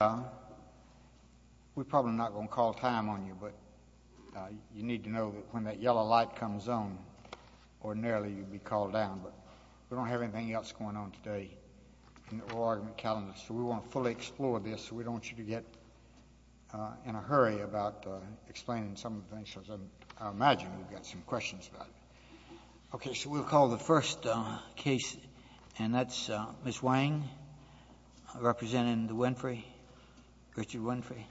We're probably not going to call time on you, but you need to know that when that yellow light comes on, ordinarily you'd be called down. But we don't have anything else going on today in the Oregon calendar, so we want to fully explore this. We don't want you to get in a hurry about explaining some of the things, because I imagine you've got some questions about it. Okay, so we'll call the first case, and that's Ms. Wang, representing the Winfrey, Richard Winfrey.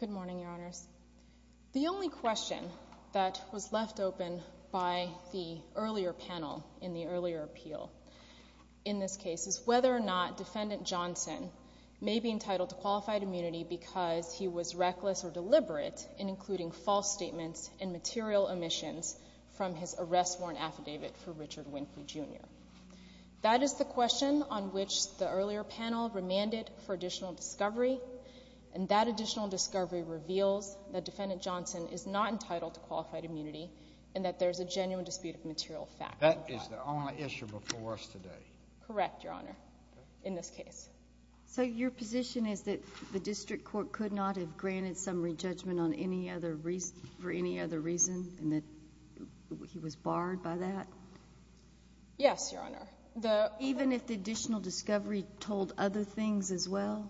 Good morning, Your Honor. The only question that was left open by the earlier panel in the earlier appeal in this case is whether or not defendant Johnson may be entitled to qualified immunity because he was reckless or deliberate in including false statements and material omissions from his arrest warrant affidavit for Richard Winfrey, Jr. That is the question on which the earlier panel remanded for additional discovery, and that additional discovery revealed that defendant Johnson is not entitled to qualified immunity and that there's a genuine dispute of material facts. That is the only issue before us today. Correct, Your Honor, in this case. So your position is that the district court could not have granted some re-judgment for any other reason and that he was barred by that? Yes, Your Honor. Even if the additional discovery told other things as well?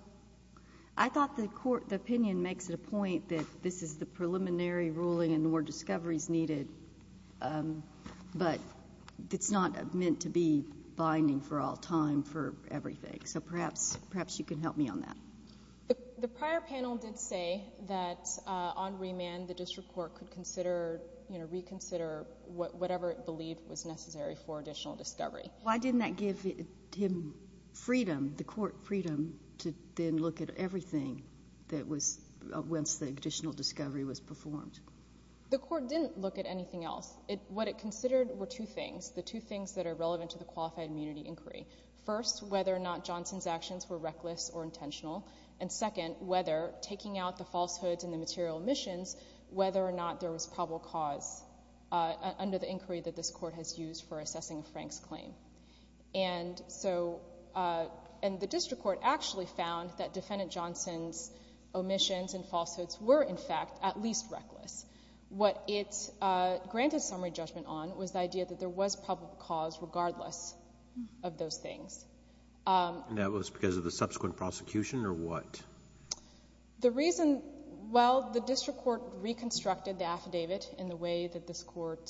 I thought the opinion makes the point that this is the preliminary ruling and more discovery is needed, but it's not meant to be binding for all time for everything, so perhaps you can help me on that. The prior panel did say that on remand the district court could reconsider whatever it believed was necessary for additional discovery. Why didn't that give him freedom, the court freedom, to then look at everything once the additional discovery was performed? The court didn't look at anything else. What it considered were two things, the two things that are relevant to the qualified immunity inquiry. First, whether or not Johnson's actions were reckless or intentional, and second, whether taking out the falsehoods and the material omissions, whether or not there was public cause under the inquiry that this court has used for assessing Frank's claim. And the district court actually found that Defendant Johnson's omissions and falsehoods were, in fact, at least reckless. What it granted summary judgment on was the idea that there was public cause regardless of those things. And that was because of the subsequent prosecution or what? The reason, well, the district court reconstructed the affidavit in the way that this court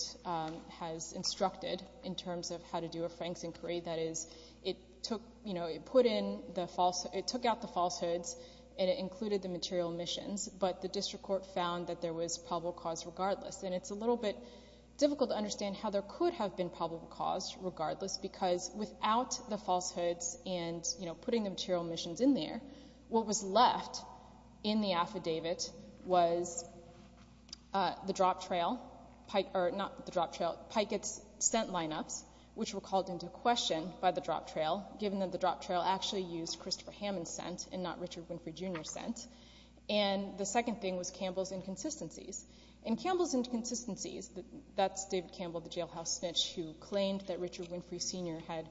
has instructed in terms of how to do a Frank's inquiry. That is, it took out the falsehoods and it included the material omissions, but the district court found that there was public cause regardless. And it's a little bit difficult to understand how there could have been public cause regardless, because without the falsehoods and, you know, putting the material omissions in there, what was left in the affidavit was the drop trail, or not the drop trail, Pikett's scent lineup, which were called into question by the drop trail, given that the drop trail actually used Christopher Hammond's scent and not Richard Winfrey, Jr.'s scent. And the second thing was Campbell's inconsistencies. And Campbell's inconsistencies, that's David Campbell, the jailhouse snitch, who claimed that Richard Winfrey, Sr. had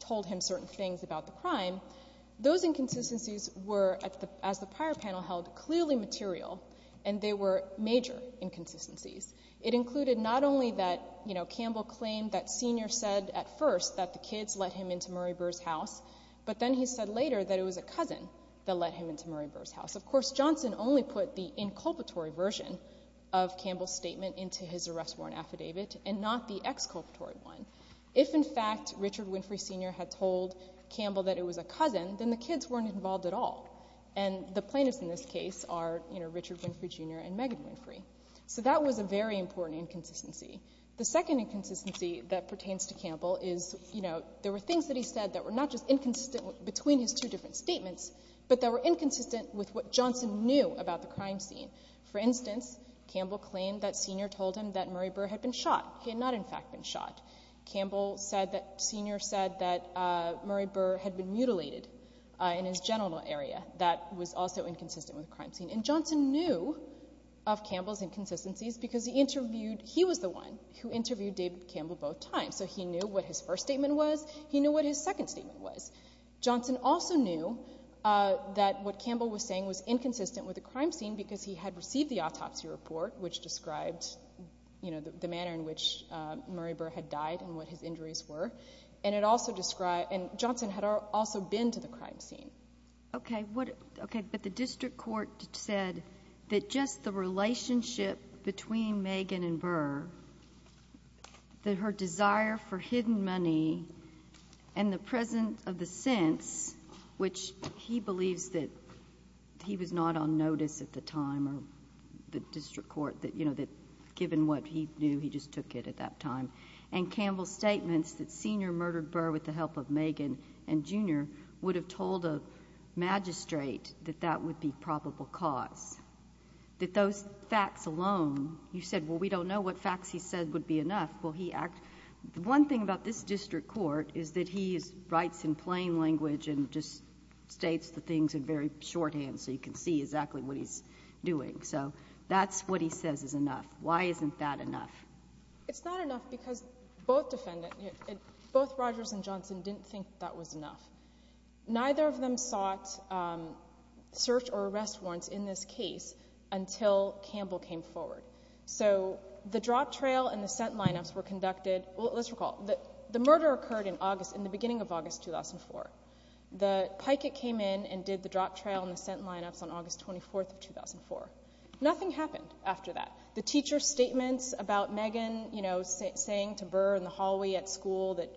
told him certain things about the crime. Those inconsistencies were, as the prior panel held, clearly material, and they were major inconsistencies. It included not only that, you know, Campbell claimed that Sr. said at first that the kids let him into Murray Burr's house, but then he said later that it was a cousin that let him into Murray Burr's house. Of course, Johnson only put the inculpatory version of Campbell's statement into his arrest warrant affidavit and not the exculpatory one. If, in fact, Richard Winfrey, Sr. had told Campbell that it was a cousin, then the kids weren't involved at all. And the plaintiffs in this case are, you know, Richard Winfrey, Jr. and Megan Winfrey. So that was a very important inconsistency. The second inconsistency that pertains to Campbell is, you know, there were things that he said that were not just inconsistent between his two different statements, but that were inconsistent with what Johnson knew about the crime scene. For instance, Campbell claimed that Sr. told him that Murray Burr had been shot. He had not, in fact, been shot. Campbell said that Sr. said that Murray Burr had been mutilated in his genital area. That was also inconsistent with the crime scene. And Johnson knew of Campbell's inconsistencies because he interviewed, he was the one who interviewed David Campbell both times. So he knew what his first statement was. He knew what his second statement was. Johnson also knew that what Campbell was saying was inconsistent with the crime scene because he had received the autopsy report, which described, you know, the manner in which Murray Burr had died and what his injuries were. And it also described, and Johnson had also been to the crime scene. Okay, but the district court said that just the relationship between Megan and Burr, that her desire for hidden money and the presence of the sense, which he believed that he was not on notice at the time of the district court, that, you know, given what he knew, he just took it at that time. And Campbell's statement that Sr. murdered Burr with the help of Megan and Jr. would have told a magistrate that that would be probable cause. That those facts alone, he said, well, we don't know what facts he said would be enough. Well, he asked, one thing about this district court is that he writes in plain language and just states the things in very shorthand so you can see exactly what he's doing. So that's what he says is enough. Why isn't that enough? It's not enough because both defendants, both Rogers and Johnson, didn't think that was enough. Neither of them sought search or arrest warrants in this case until Campbell came forward. So the drop trail and the scent lineups were conducted. Let's recall, the murder occurred in the beginning of August 2004. The piket came in and did the drop trail and the scent lineups on August 24, 2004. Nothing happened after that. The teacher's statements about Megan, you know, saying to Burr in the hallway at school that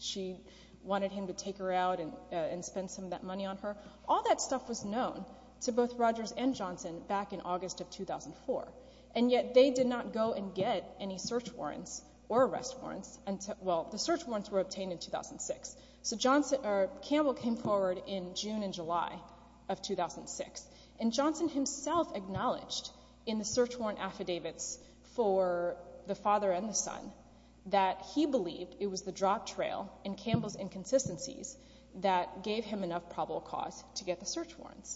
she wanted him to take her out and spend some of that money on her, all that stuff was known to both Rogers and Johnson back in August of 2004. And yet they did not go and get any search warrants or arrest warrants. Well, the search warrants were obtained in 2006. So Campbell came forward in June and July of 2006, and Johnson himself acknowledged in the search warrant affidavits for the father and the son that he believed it was the drop trail and Campbell's inconsistencies that gave him enough probable cause to get the search warrant.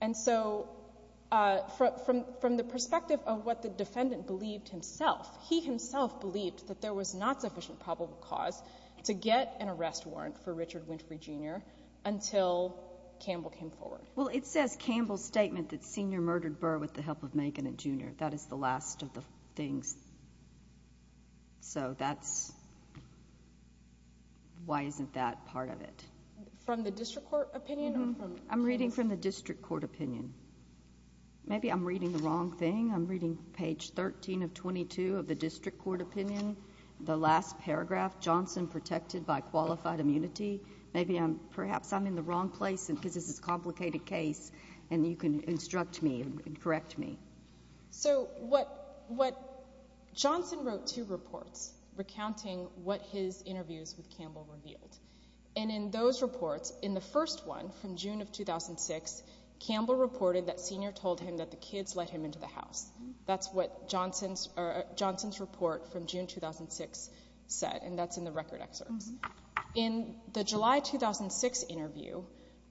And so from the perspective of what the defendant believed himself, he himself believed that there was not sufficient probable cause to get an arrest warrant for Richard Winfrey, Jr. until Campbell came forward. Well, it says Campbell's statement that Senior murdered Burr with the help of Megan and Junior. That is the last of the things. So that's why isn't that part of it? From the district court opinion? I'm reading from the district court opinion. Maybe I'm reading the wrong thing. I'm reading page 13 of 22 of the district court opinion, the last paragraph, Johnson protected by qualified immunity. Perhaps I'm in the wrong place because this is a complicated case, and you can instruct me and correct me. So what Johnson wrote two reports recounting what his interviews with Campbell revealed. And in those reports, in the first one from June of 2006, Campbell reported that Senior told him that the kids let him into the house. That's what Johnson's report from June 2006 said, and that's in the record excerpt. In the July 2006 interview,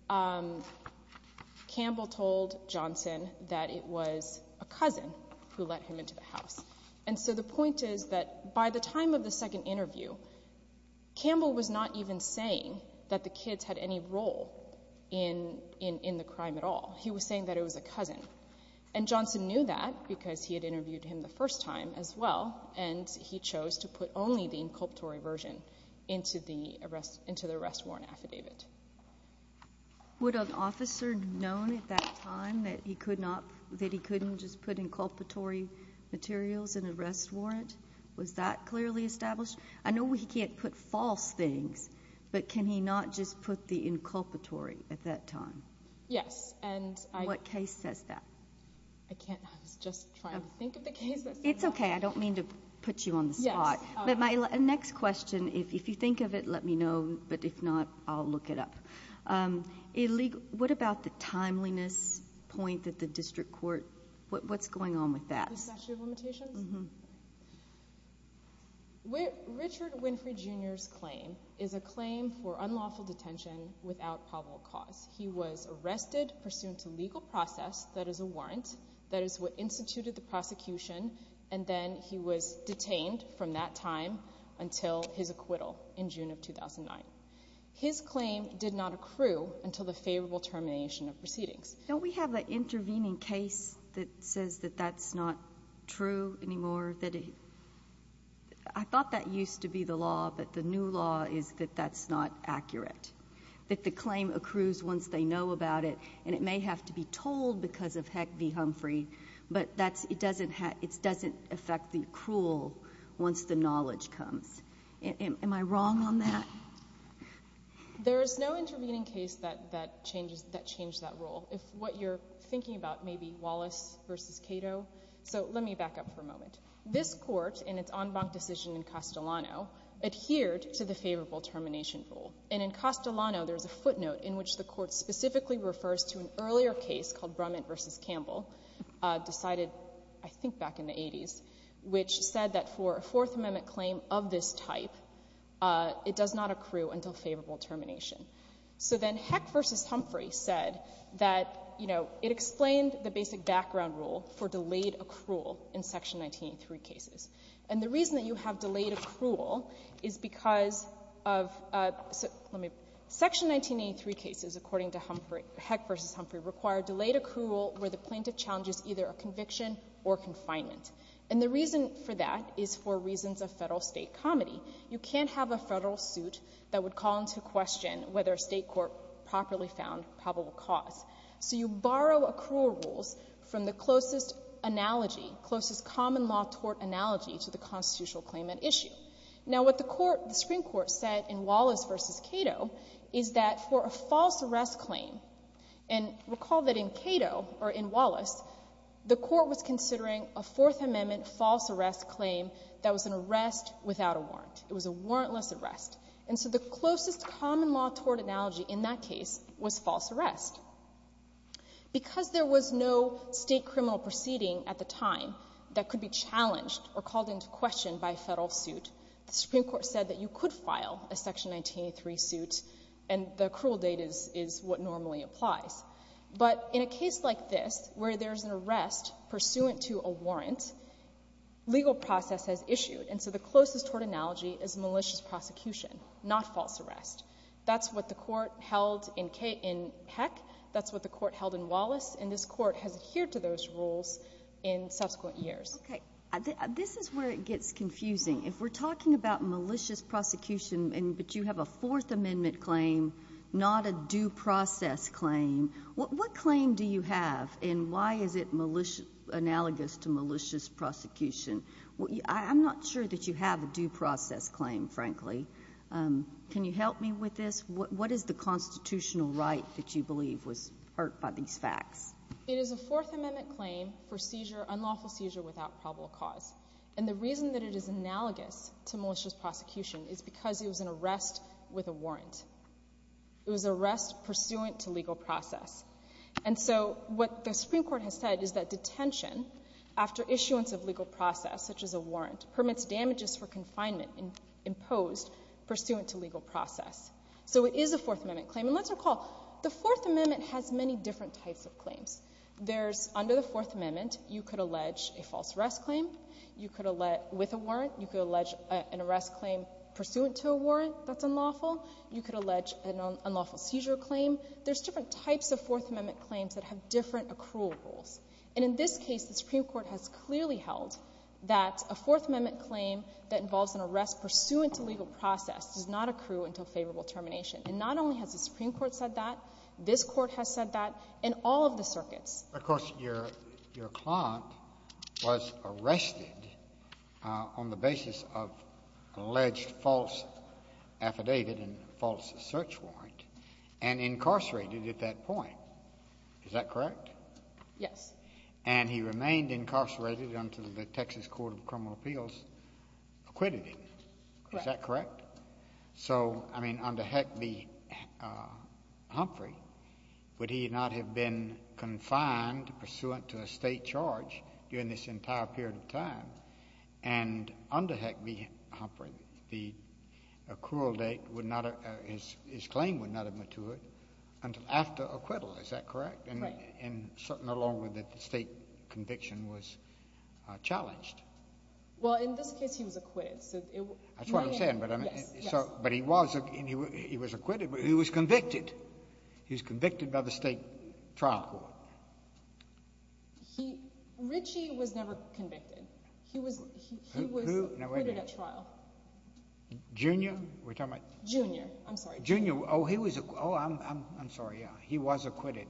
Campbell told Johnson that it was a cousin who let him into the house. And so the point is that by the time of the second interview, Campbell was not even saying that the kids had any role in the crime at all. He was saying that it was a cousin. And Johnson knew that because he had interviewed him the first time as well, and he chose to put only the inculpatory version into the arrest warrant affidavit. Would an officer have known at that time that he couldn't just put inculpatory materials in the arrest warrant? Was that clearly established? I know he can't put false things, but can he not just put the inculpatory at that time? Yes. And what case says that? I can't just try to think of the case. It's okay. I don't mean to put you on the spot. My next question is, if you think of it, let me know, but if not, I'll look it up. What about the timeliness point at the district court? What's going on with that? Richard Winfrey Jr.'s claim is a claim for unlawful detention without probable cause. He was arrested pursuant to legal process, that is a warrant, that is what instituted the prosecution, and then he was detained from that time until his acquittal in June of 2009. His claim did not accrue until the favorable termination of proceedings. Don't we have an intervening case that says that that's not true anymore? I thought that used to be the law, but the new law is that that's not accurate, that the claim accrues once they know about it, and it may have to be told because of Heck v. Humphrey, but it doesn't affect the accrual once the knowledge comes. Am I wrong on that? There is no intervening case that changed that rule. It's what you're thinking about, maybe Wallace v. Cato. So let me back up for a moment. This court, in its en banc decision in Castellano, adhered to the favorable termination rule, and in Castellano there's a footnote in which the court specifically refers to an earlier case called Brunet v. Campbell, decided I think back in the 80s, which said that for a Fourth Amendment claim of this type, it does not accrue until favorable termination. So then Heck v. Humphrey said that, you know, it explains the basic background rule for delayed accrual in Section 1903 cases, and the reason that you have delayed accrual is because of Section 1983 cases, according to Heck v. Humphrey, require delayed accrual where the plaintiff challenges either a conviction or confinement. And the reason for that is for reasons of federal-state comity. You can't have a federal suit that would call into question whether a state court properly found probable cause. So you borrow accrual rules from the closest analogy, closest common law tort analogy to the constitutional claim at issue. Now what the Supreme Court said in Wallace v. Cato is that for a false arrest claim, and recall that in Cato, or in Wallace, the court was considering a Fourth Amendment false arrest claim that was an arrest without a warrant. It was a warrantless arrest. And so the closest common law tort analogy in that case was false arrest. Because there was no state criminal proceeding at the time that could be challenged or called into question by a federal suit, the Supreme Court said that you could file a Section 1983 suit, and the accrual date is what normally applies. But in a case like this, where there's an arrest pursuant to a warrant, legal process has issued, and so the closest tort analogy is malicious prosecution, not false arrest. That's what the court held in Peck. That's what the court held in Wallace. And this court has adhered to those rules in subsequent years. Okay. This is where it gets confusing. If we're talking about malicious prosecution, but you have a Fourth Amendment claim, not a due process claim, what claim do you have, and why is it analogous to malicious prosecution? I'm not sure that you have a due process claim, frankly. Can you help me with this? What is the constitutional right that you believe was hurt by these facts? It is a Fourth Amendment claim for seizure, unlawful seizure without probable cause. And the reason that it is analogous to malicious prosecution is because it was an arrest with a warrant. It was an arrest pursuant to legal process. And so what the Supreme Court has said is that detention after issuance of legal process, such as a warrant, permits damages for confinement imposed pursuant to legal process. So it is a Fourth Amendment claim. And let's recall, the Fourth Amendment has many different types of claims. Under the Fourth Amendment, you could allege a false arrest claim with a warrant. You could allege an arrest claim pursuant to a warrant that's unlawful. You could allege an unlawful seizure claim. There's different types of Fourth Amendment claims that have different accrual rules. And in this case, the Supreme Court has clearly held that a Fourth Amendment claim that involves an arrest pursuant to legal process does not accrue until favorable termination. And not only has the Supreme Court said that, this Court has said that, and all of the circuits. Of course, your client was arrested on the basis of alleged false affidavit and false search warrant. And incarcerated at that point. Is that correct? Yes. And he remained incarcerated until the Texas Court of Criminal Appeals acquitted him. Is that correct? Correct. So, I mean, under Heck v. Humphrey, would he not have been confined pursuant to a state charge during this entire period of time? And under Heck v. Humphrey, the accrual date, his claim would not have matured until after acquittal. Is that correct? Right. And certainly no longer that the state conviction was challenged. Well, in this case, he was acquitted. That's what I'm saying, but he was acquitted, but he was convicted. He was convicted by the state trial court. Richie was never convicted. He was acquitted at trial. Junior? Junior. I'm sorry. Junior. Oh, I'm sorry, yeah. He was acquitted.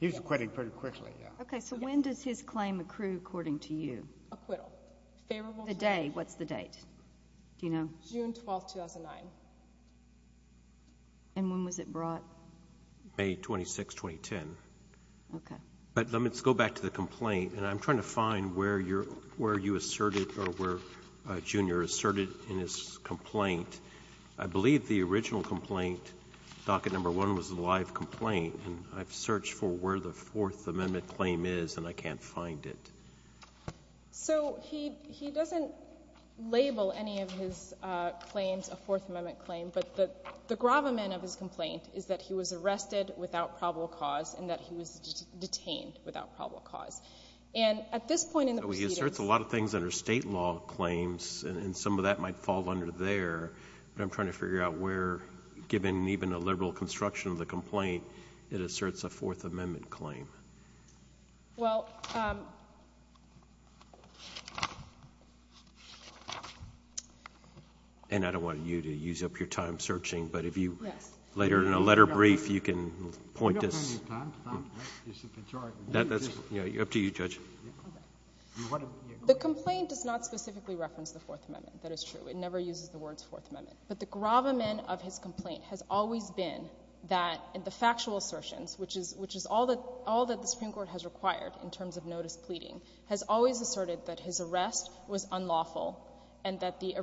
He was acquitted pretty quickly, yeah. Okay, so when does his claim accrue according to you? Acquittal. Today, what's the date? Do you know? June 12, 2009. And when was it brought? May 26, 2010. Okay. But let's go back to the complaint, and I'm trying to find where you asserted or where Junior asserted in his complaint. I believe the original complaint, docket number one, was a live complaint, and I've searched for where the Fourth Amendment claim is, and I can't find it. So he doesn't label any of his claims a Fourth Amendment claim, but the gravamen of his complaint is that he was arrested without probable cause and that he was detained without probable cause. And at this point in the procedure— So he asserts a lot of things that are state law claims, and some of that might fall under there, but I'm trying to figure out where, given even the liberal construction of the complaint, it asserts a Fourth Amendment claim. Well— And I don't want you to use up your time searching, but if you later in a letter brief, you can point this— I don't have any time. It's all right. It's up to you, Judge. The complaint does not specifically reference the Fourth Amendment. That is true. It never uses the words Fourth Amendment. But the gravamen of his complaint has always been that the factual assertions, which is all that the Supreme Court has required in terms of notice pleading, has always asserted that his arrest was unlawful and that the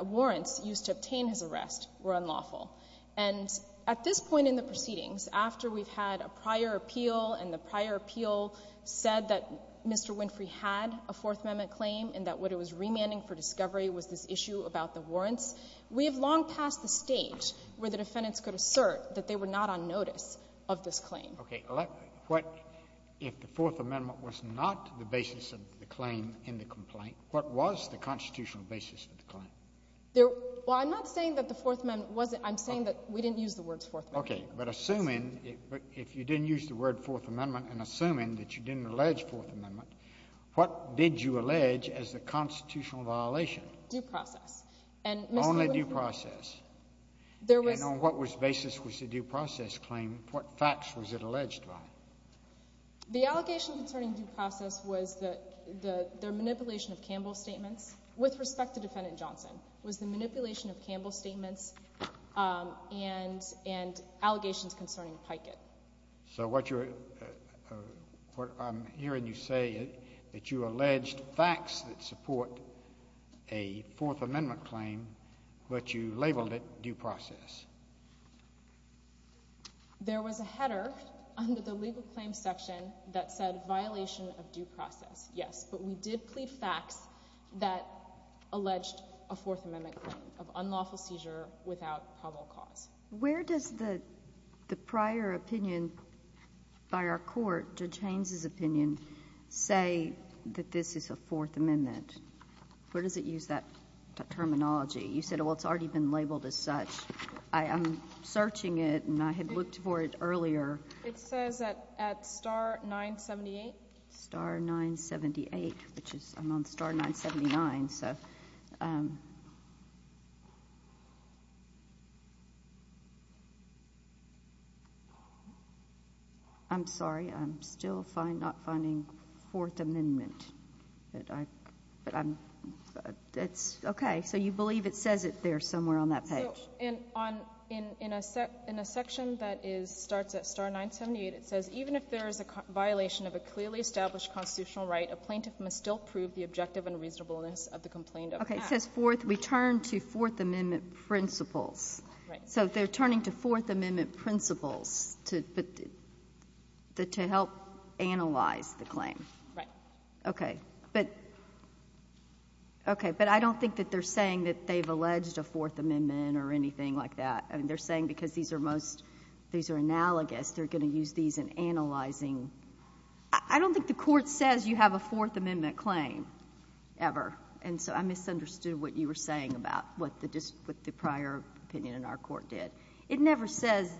warrants used to obtain his arrest were unlawful. And at this point in the proceedings, after we've had a prior appeal, and the prior appeal said that Mr. Winfrey had a Fourth Amendment claim and that what it was remanding for discovery was this issue about the warrants, we have long passed the stage where the defendants could assert that they were not on notice of this claim. Okay. If the Fourth Amendment was not the basis of the claim in the complaint, what was the constitutional basis of the claim? Well, I'm not saying that the Fourth Amendment wasn't—I'm saying that we didn't use the words Fourth Amendment. Okay. But assuming—if you didn't use the word Fourth Amendment and assuming that you didn't allege Fourth Amendment, what did you allege as the constitutional violation? Due process. Only due process. And on what basis was the due process claim—what facts was it alleged on? The allegations concerning due process was that their manipulation of Campbell's statements, with respect to Defendant Johnson, was the manipulation of Campbell's statements and allegations concerning Pikett. So what you're—what I'm hearing you say is that you alleged facts that support a Fourth Amendment claim, but you labeled it due process. There was a header under the legal claims section that said violation of due process, yes. But we did plead facts that alleged a Fourth Amendment claim of unlawful seizure without probable cause. Where does the prior opinion by our court, Judge Haynes' opinion, say that this is a Fourth Amendment? Where does it use that terminology? You said, well, it's already been labeled as such. I'm searching it, and I had looked for it earlier. It says that at star 978. Star 978, which is—I'm on star 979, so. I'm sorry, I'm still not finding Fourth Amendment. Okay, so you believe it says it there somewhere on that page. In a section that starts at star 978, it says, even if there is a violation of a clearly established constitutional right, a plaintiff must still prove the objective and reasonableness of the complaint of facts. Okay, it says return to Fourth Amendment principles. So they're turning to Fourth Amendment principles to help analyze the claim. Right. Okay, but I don't think that they're saying that they've alleged a Fourth Amendment or anything like that. They're saying because these are analogous, they're going to use these in analyzing. I don't think the court says you have a Fourth Amendment claim ever, and so I misunderstood what you were saying about what the prior opinion in our court did. It never says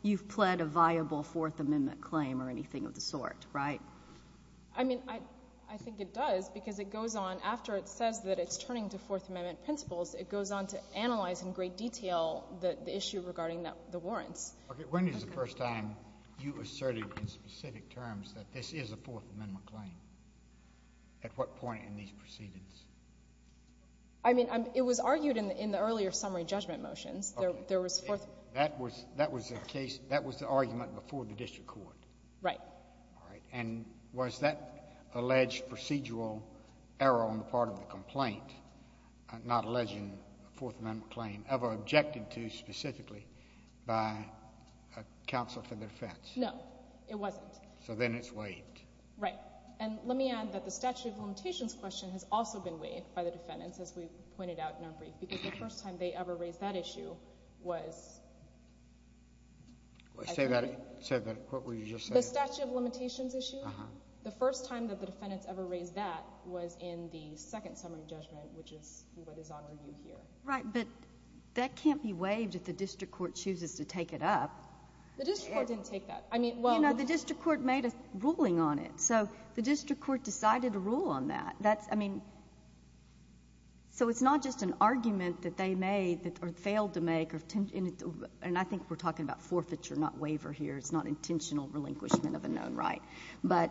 you've pled a viable Fourth Amendment claim or anything of the sort, right? I mean, I think it does because it goes on. After it says that it's turning to Fourth Amendment principles, it goes on to analyze in great detail the issue regarding the warrant. Okay, when is the first time you asserted in specific terms that this is a Fourth Amendment claim? At what point in these proceedings? I mean, it was argued in the earlier summary judgment motion. That was the case, that was the argument before the district court? Right. All right, and was that alleged procedural error on the part of the complaint, not alleging a Fourth Amendment claim, ever objected to specifically by counsel for defense? No, it wasn't. So then it's waived. Right. And let me add that the statute of limitations question has also been waived by the defendants, as we've pointed out in our briefs, because the first time they ever raised that issue was— Say that again. Say that again. What were you just saying? The statute of limitations issue? Uh-huh. The first time that the defendants ever raised that was in the second summary judgment, which is what is on review here. Right, but that can't be waived if the district court chooses to take it up. The district court didn't take that. You know, the district court made a ruling on it, so the district court decided to rule on that. I mean, so it's not just an argument that they made or failed to make, and I think we're talking about forfeiture, not waiver here. It's not intentional relinquishment of a known right. But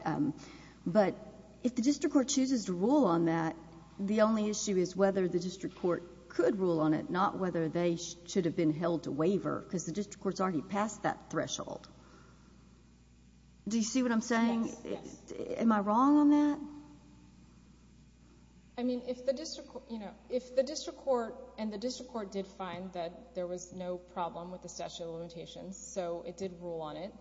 if the district court chooses to rule on that, the only issue is whether the district court could rule on it, not whether they should have been held to waiver, because the district court has already passed that threshold. Do you see what I'm saying? Am I wrong on that? I mean, if the district court, you know, if the district court, and the district court did find that there was no problem with the statute of limitations, so it did rule on it.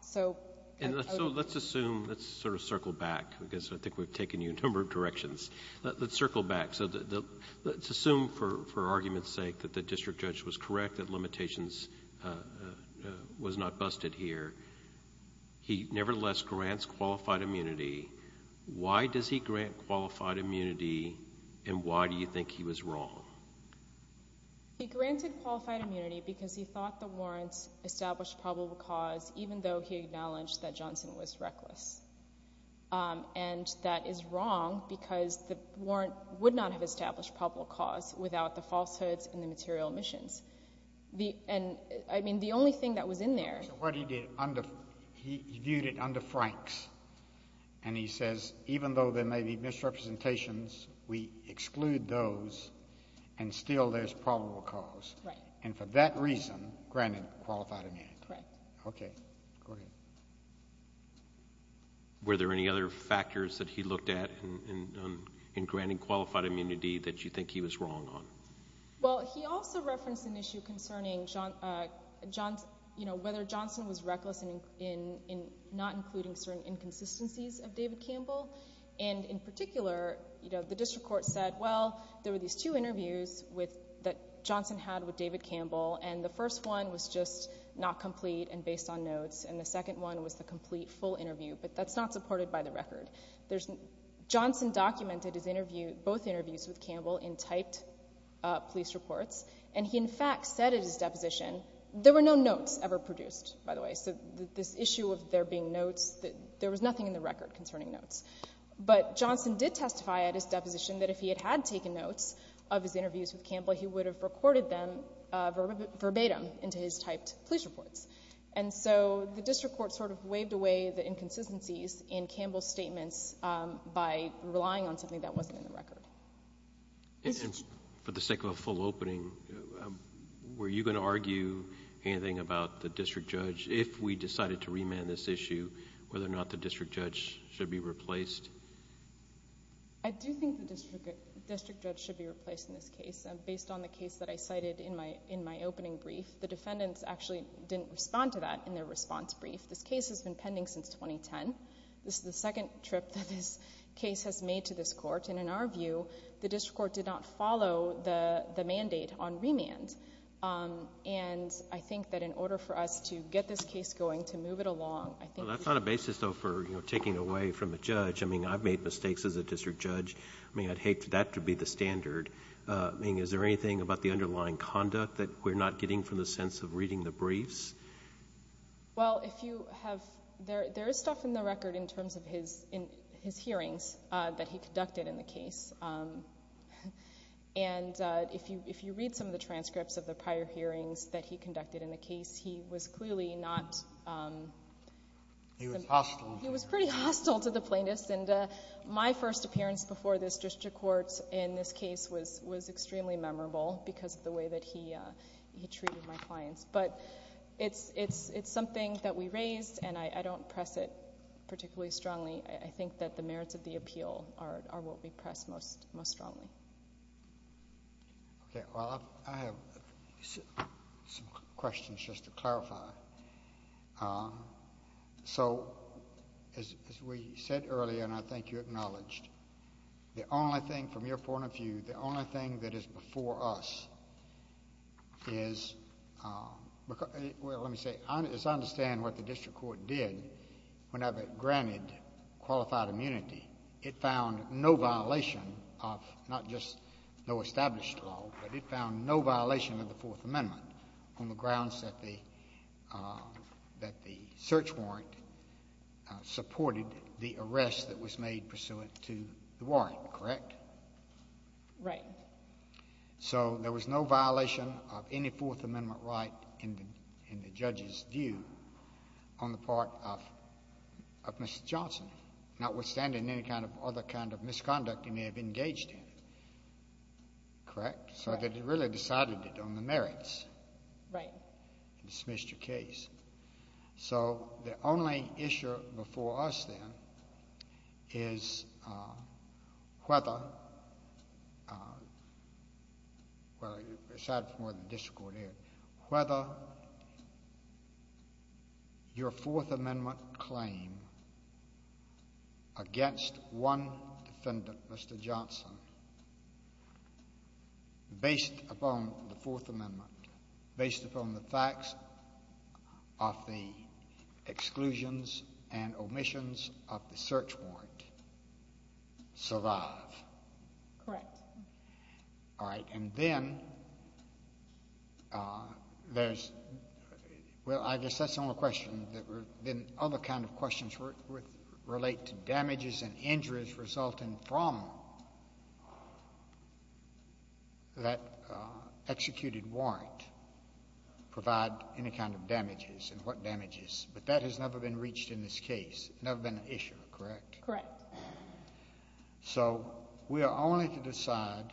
So— Let's assume, let's sort of circle back, because I think we've taken you in a number of directions. Let's circle back. So let's assume, for argument's sake, that the district judge was correct, that limitations was not busted here. He nevertheless grants qualified immunity. Why does he grant qualified immunity, and why do you think he was wrong? He granted qualified immunity because he thought the warrants established probable cause, even though he acknowledged that Johnson was reckless. And that is wrong because the warrant would not have established probable cause without the falsehoods and the material omissions. And, I mean, the only thing that was in there— What he did, he viewed it under Franks, and he says, even though there may be misrepresentations, we exclude those, and still there's probable cause. Right. And for that reason, granted qualified immunity. Right. Okay. Go ahead. Were there any other factors that he looked at in granting qualified immunity that you think he was wrong on? Well, he also referenced an issue concerning whether Johnson was reckless in not including certain inconsistencies of David Campbell. And, in particular, the district court said, well, there were these two interviews that Johnson had with David Campbell, and the first one was just not complete and based on notes, and the second one was the complete full interview, but that's not supported by the record. Johnson documented both interviews with Campbell in typed police reports, and he, in fact, said in his deposition, there were no notes ever produced, by the way. So this issue of there being notes, there was nothing in the record concerning notes. But Johnson did testify at his deposition that if he had taken notes of his interviews with Campbell, he would have recorded them verbatim into his typed police reports. And so the district court sort of waved away the inconsistencies in Campbell's statements by relying on something that wasn't in the record. And for the sake of a full opening, were you going to argue anything about the district judge, if we decided to remand this issue, whether or not the district judge should be replaced? I do think the district judge should be replaced in this case. Based on the case that I cited in my opening brief, the defendants actually didn't respond to that in their response brief. This case has been pending since 2010. This is the second trip that this case has made to this court, and in our view, the district court did not follow the mandate on remand. And I think that in order for us to get this case going, to move it along, I think we need to I mean, I've made mistakes as a district judge. I mean, I'd hate for that to be the standard. I mean, is there anything about the underlying conduct that we're not getting from the sense of reading the briefs? Well, there is stuff in the record in terms of his hearings that he conducted in the case. And if you read some of the transcripts of the prior hearings that he conducted in the case, he was clearly not He was hostile. He was pretty hostile to the plaintiffs. And my first appearance before this district court in this case was extremely memorable because of the way that he treated my clients. But it's something that we raise, and I don't press it particularly strongly. I think that the merits of the appeal are what we press most strongly. Okay. Well, I have some questions just to clarify. So, as we said earlier, and I think you acknowledged, the only thing from your point of view, the only thing that is before us is Well, let me say, I just understand what the district court did whenever it granted qualified immunity. It found no violation of not just no established law, but it found no violation of the Fourth Amendment on the grounds that the search warrant supported the arrest that was made pursuant to the warrant, correct? Right. So there was no violation of any Fourth Amendment right in the judge's view on the part of Mr. Johnson. Notwithstanding any kind of other kind of misconduct he may have engaged in. Correct? So it really decided it on the merits. Right. Dismissed your case. So the only issue before us then is whether, well, aside from what the district court did, whether your Fourth Amendment claim against one defendant, Mr. Johnson, based upon the Fourth Amendment, based upon the facts of the exclusions and omissions of the search warrant, survived. Correct. All right. And then there's, well, I guess that's not a question. Then other kind of questions relate to damages and injuries resulting from that executed warrant provide any kind of damages and what damages. But that has never been reached in this case. Never been an issue, correct? Correct. So we are only to decide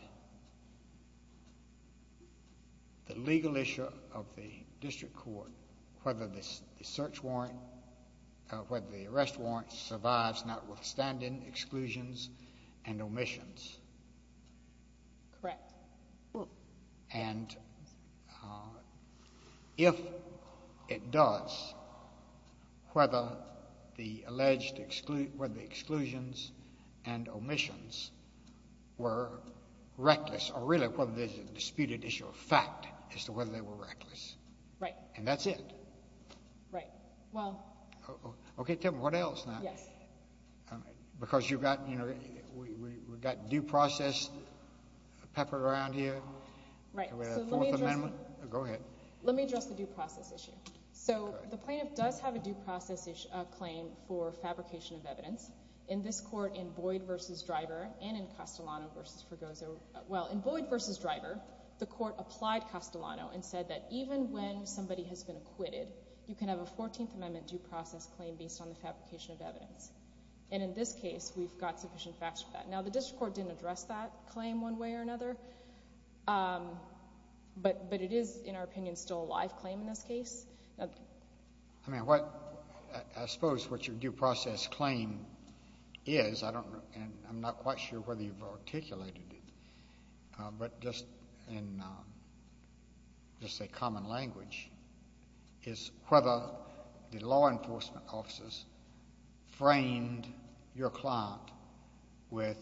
the legal issue of the district court, whether the search warrant, whether the arrest warrant, survives notwithstanding exclusions and omissions. Correct. And if it does, whether the alleged, whether the exclusions and omissions were reckless, or really whether there's a disputed issue of fact as to whether they were reckless. Right. And that's it. Right. Well. Okay, tell me what else now. Yeah. Because you've got, you know, we've got due process peppered around here. Right. And we have a Fourth Amendment. Go ahead. Let me address the due process issue. So the plaintiff does have a due process claim for fabrication of evidence. In this court, in Boyd v. Driver and in Castellano v. Fregoso, well, in Boyd v. Driver, the court applied Castellano and said that even when somebody has been acquitted, you can have a Fourteenth Amendment due process claim based on the fabrication of evidence. And in this case, we've got sufficient facts for that. Now, the district court didn't address that claim one way or another, but it is, in our opinion, still a live claim in this case. Okay. I mean, I suppose what your due process claim is, I don't know, and I'm not quite sure whether you've articulated it, but just in a common language, is whether the law enforcement officers framed your client with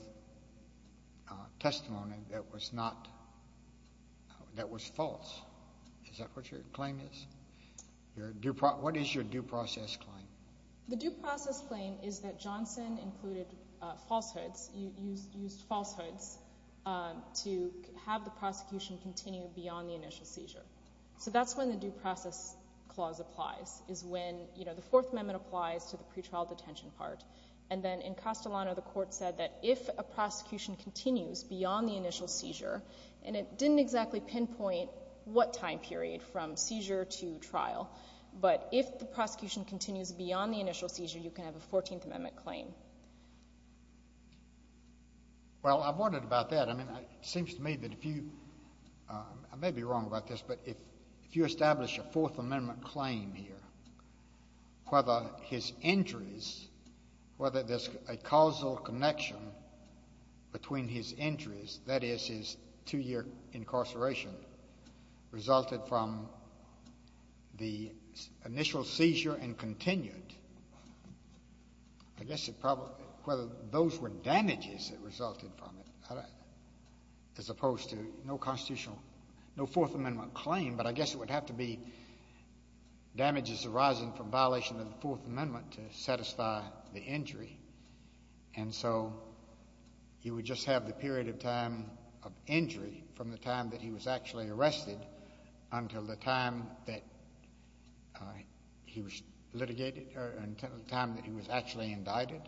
testimony that was false. Is that what your claim is? What is your due process claim? The due process claim is that Johnson included falsehoods, used falsehoods to have the prosecution continue beyond the initial seizure. So that's when the due process clause applies, is when the Fourth Amendment applies to the pretrial detention part. And then in Castellano, the court said that if a prosecution continues beyond the initial seizure, and it didn't exactly pinpoint what time period from seizure to trial, but if the prosecution continues beyond the initial seizure, you can have a Fourteenth Amendment claim. Well, I've wondered about that. I mean, it seems to me that if you, I may be wrong about this, but if you establish a Fourth Amendment claim here, whether his injuries, whether there's a causal connection between his injuries, that is, his two-year incarceration, resulted from the initial seizure and continued, I guess it probably, whether those were damages that resulted from it, as opposed to no constitutional, no Fourth Amendment claim, but I guess it would have to be damages arising from violation of the Fourth Amendment to satisfy the injury. And so he would just have the period of time of injury from the time that he was actually arrested until the time that he was litigated, or until the time that he was actually indicted?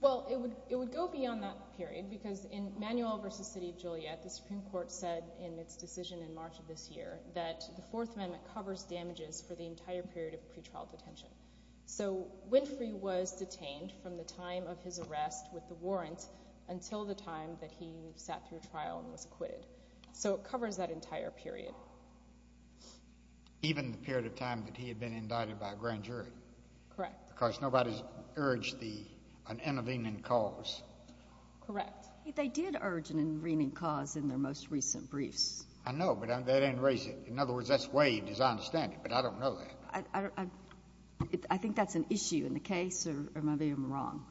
Well, it would go beyond that period, because in Manuel v. City of Juliet, the Supreme Court said in its decision in March of this year that the Fourth Amendment covers damages for the entire period of pretrial detention. So Winfrey was detained from the time of his arrest with the warrants until the time that he sat through trial and was acquitted. So it covers that entire period. Even the period of time that he had been indicted by a grand jury? Correct. Because nobody's urged an intervening cause. Correct. They did urge an intervening cause in their most recent briefs. I know, but that ain't racist. In other words, that's way he doesn't understand it, but I don't know that. I think that's an issue in the case, or am I being wrong?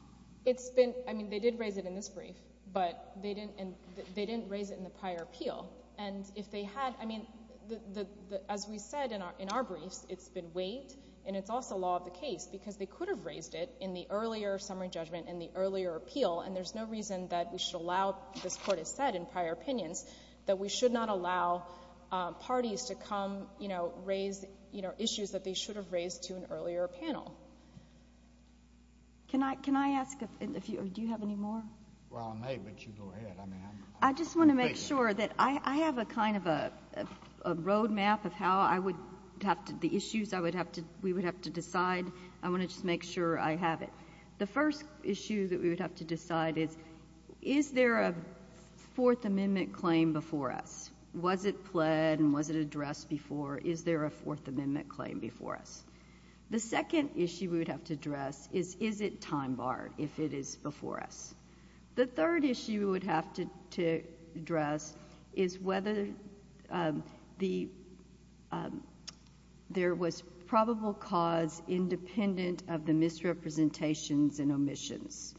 I mean, they did raise it in this brief, but they didn't raise it in the prior appeal. As we said in our brief, it's been waived, and it's also law of the case, because they could have raised it in the earlier summary judgment and the earlier appeal, and there's no reason that we should allow, as the Court has said in prior opinions, that we should not allow parties to come raise issues that they should have raised to an earlier panel. Can I ask a few? Do you have any more? Well, I may, but you go ahead. I just want to make sure that I have a kind of a road map of how I would have the issues we would have to decide. I want to just make sure I have it. The first issue that we would have to decide is, is there a Fourth Amendment claim before us? Was it fled and was it addressed before? Is there a Fourth Amendment claim before us? The second issue we would have to address is, is it time barred if it is before us? The third issue we would have to address is whether there was probable cause independent of the misrepresentations and omissions,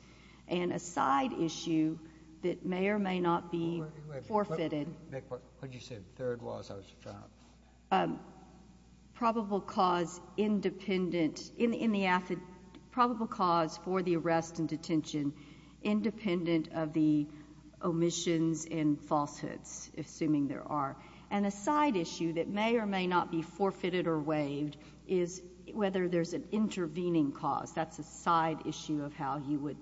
and a side issue that may or may not be forfeited. What did you say the third was? I was trapped. Probable cause for the arrest and detention independent of the omissions and falsehoods, assuming there are. And a side issue that may or may not be forfeited or waived is whether there's an intervening cause. That's a side issue of how you would,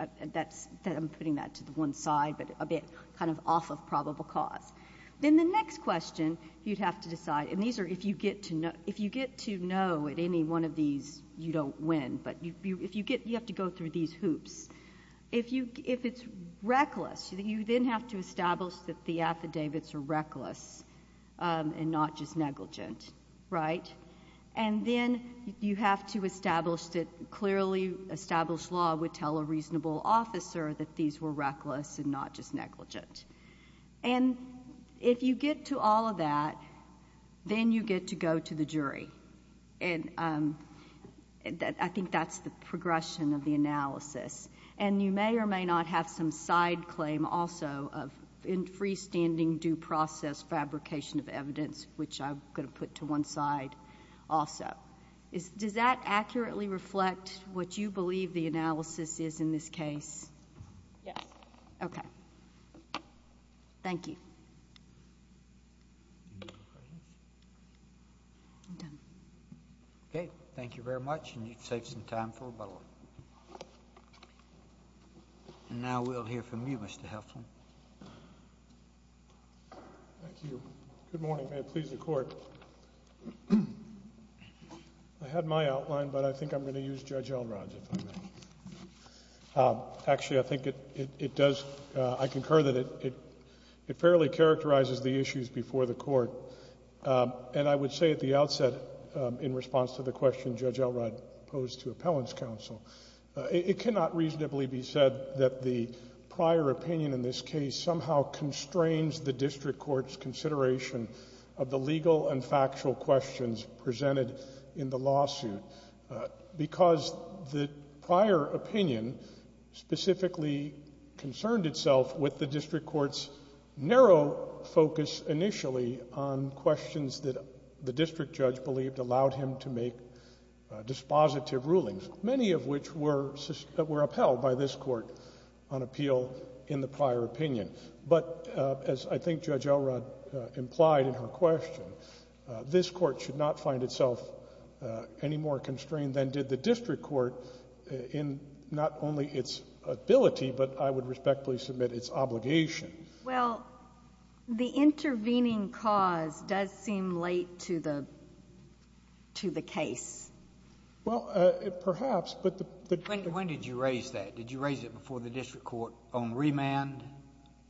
I'm putting that to one side, but a bit kind of off of probable cause. Then the next question you'd have to decide, and these are if you get to know, if you get to know at any one of these you don't win, but if you get, you have to go through these hoops. If you, if it's reckless, you then have to establish that the affidavits are reckless and not just negligent, right? And then you have to establish that clearly established law would tell a reasonable officer that these were reckless and not just negligent. And if you get to all of that, then you get to go to the jury. And I think that's the progression of the analysis. And you may or may not have some side claim also of in freestanding due process fabrication of evidence, which I'm going to put to one side also. Does that accurately reflect what you believe the analysis is in this case? Yeah. Okay. Thank you. Okay. Thank you very much. And you can take some time for rebuttal. And now we'll hear from you, Mr. Helstrom. Thank you. Good morning. May it please the court. I had my outline, but I think I'm going to use Judge Elrod's. Actually, I think it does. I concur that it fairly characterizes the issues before the court. And I would say at the outset, in response to the question Judge Elrod posed to appellant's counsel, it cannot reasonably be said that the prior opinion in this case somehow constrains the district court's consideration of the legal and factual questions presented in the lawsuit. Because the prior opinion specifically concerned itself with the district court's narrow focus initially on questions that the district judge believed allowed him to make dispositive rulings, many of which were upheld by this court on appeal in the prior opinion. But as I think Judge Elrod implied in her question, this court should not find itself any more constrained than did the district court in not only its ability, but I would respectfully submit its obligation. Well, the intervening cause does seem late to the case. Well, perhaps. When did you raise that? Did you raise it before the district court on remand?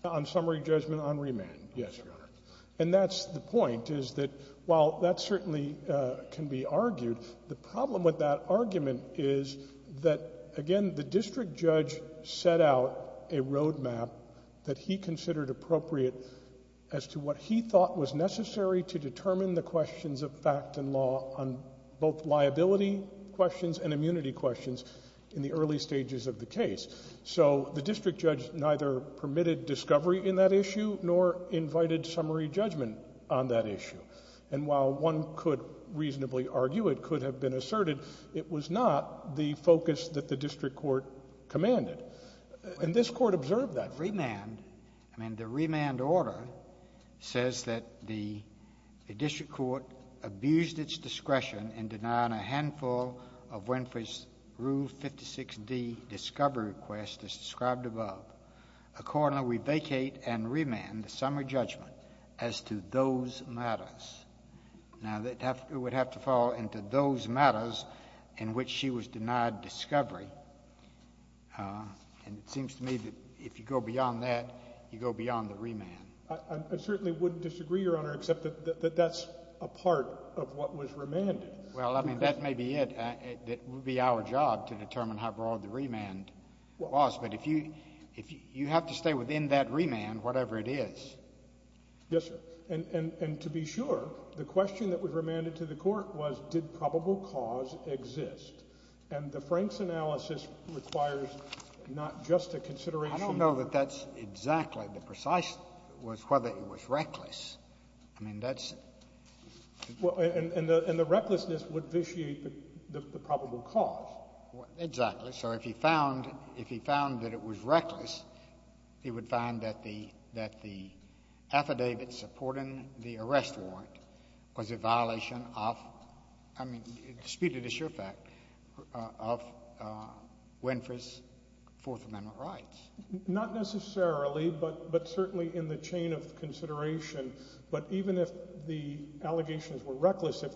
On summary judgment on remand. Yes, Your Honor. And that's the point, is that while that certainly can be argued, the problem with that argument is that, again, the district judge set out a roadmap that he considered appropriate as to what he thought was necessary to determine the questions of fact and law on both liability questions and immunity questions in the early stages of the case. So the district judge neither permitted discovery in that issue nor invited summary judgment on that issue. And while one could reasonably argue it could have been asserted, it was not the focus that the district court commanded. And this court observed that. I mean, the remand order says that the district court abused its discretion in denying a handful of Winfrey's Rule 56D discovery requests as described above. Accordingly, we vacate and remand summary judgment as to those matters. Now, it would have to fall into those matters in which she was denied discovery. And it seems to me that if you go beyond that, you go beyond the remand. I certainly wouldn't disagree, Your Honor, except that that's a part of what was remanded. Well, I mean, that may be it. It would be our job to determine how broad the remand was. But you have to stay within that remand, whatever it is. Yes, sir. And to be sure, the question that was remanded to the court was, did probable cause exist? And the Franks analysis requires not just a consideration. I don't know that that's exactly the precise, was whether it was reckless. I mean, that's... And the recklessness would vitiate the probable cause. Exactly. So if he found that it was reckless, he would find that the affidavit supporting the arrest warrant was a violation of, I mean, to speak to the sure fact of Winfrey's Fourth Amendment rights. Not necessarily, but certainly in the chain of consideration. But even if the allegations were reckless, if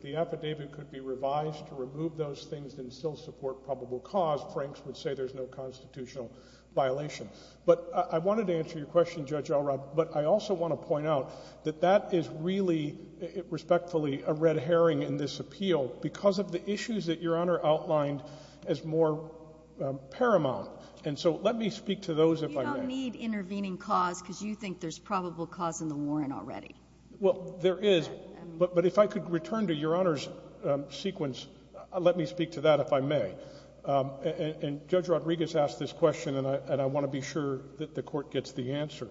the affidavit could be revised to remove those things and still support probable cause, Franks would say there's no constitutional violation. But I wanted to answer your question, Judge Elrod. But I also want to point out that that is really, respectfully, a red herring in this appeal because of the issues that Your Honor outlined as more paramount. And so let me speak to those if I may. You don't need intervening cause because you think there's probable cause in the warrant already. Well, there is. But if I could return to Your Honor's sequence, let me speak to that if I may. And Judge Rodriguez asked this question, and I want to be sure that the Court gets the answer.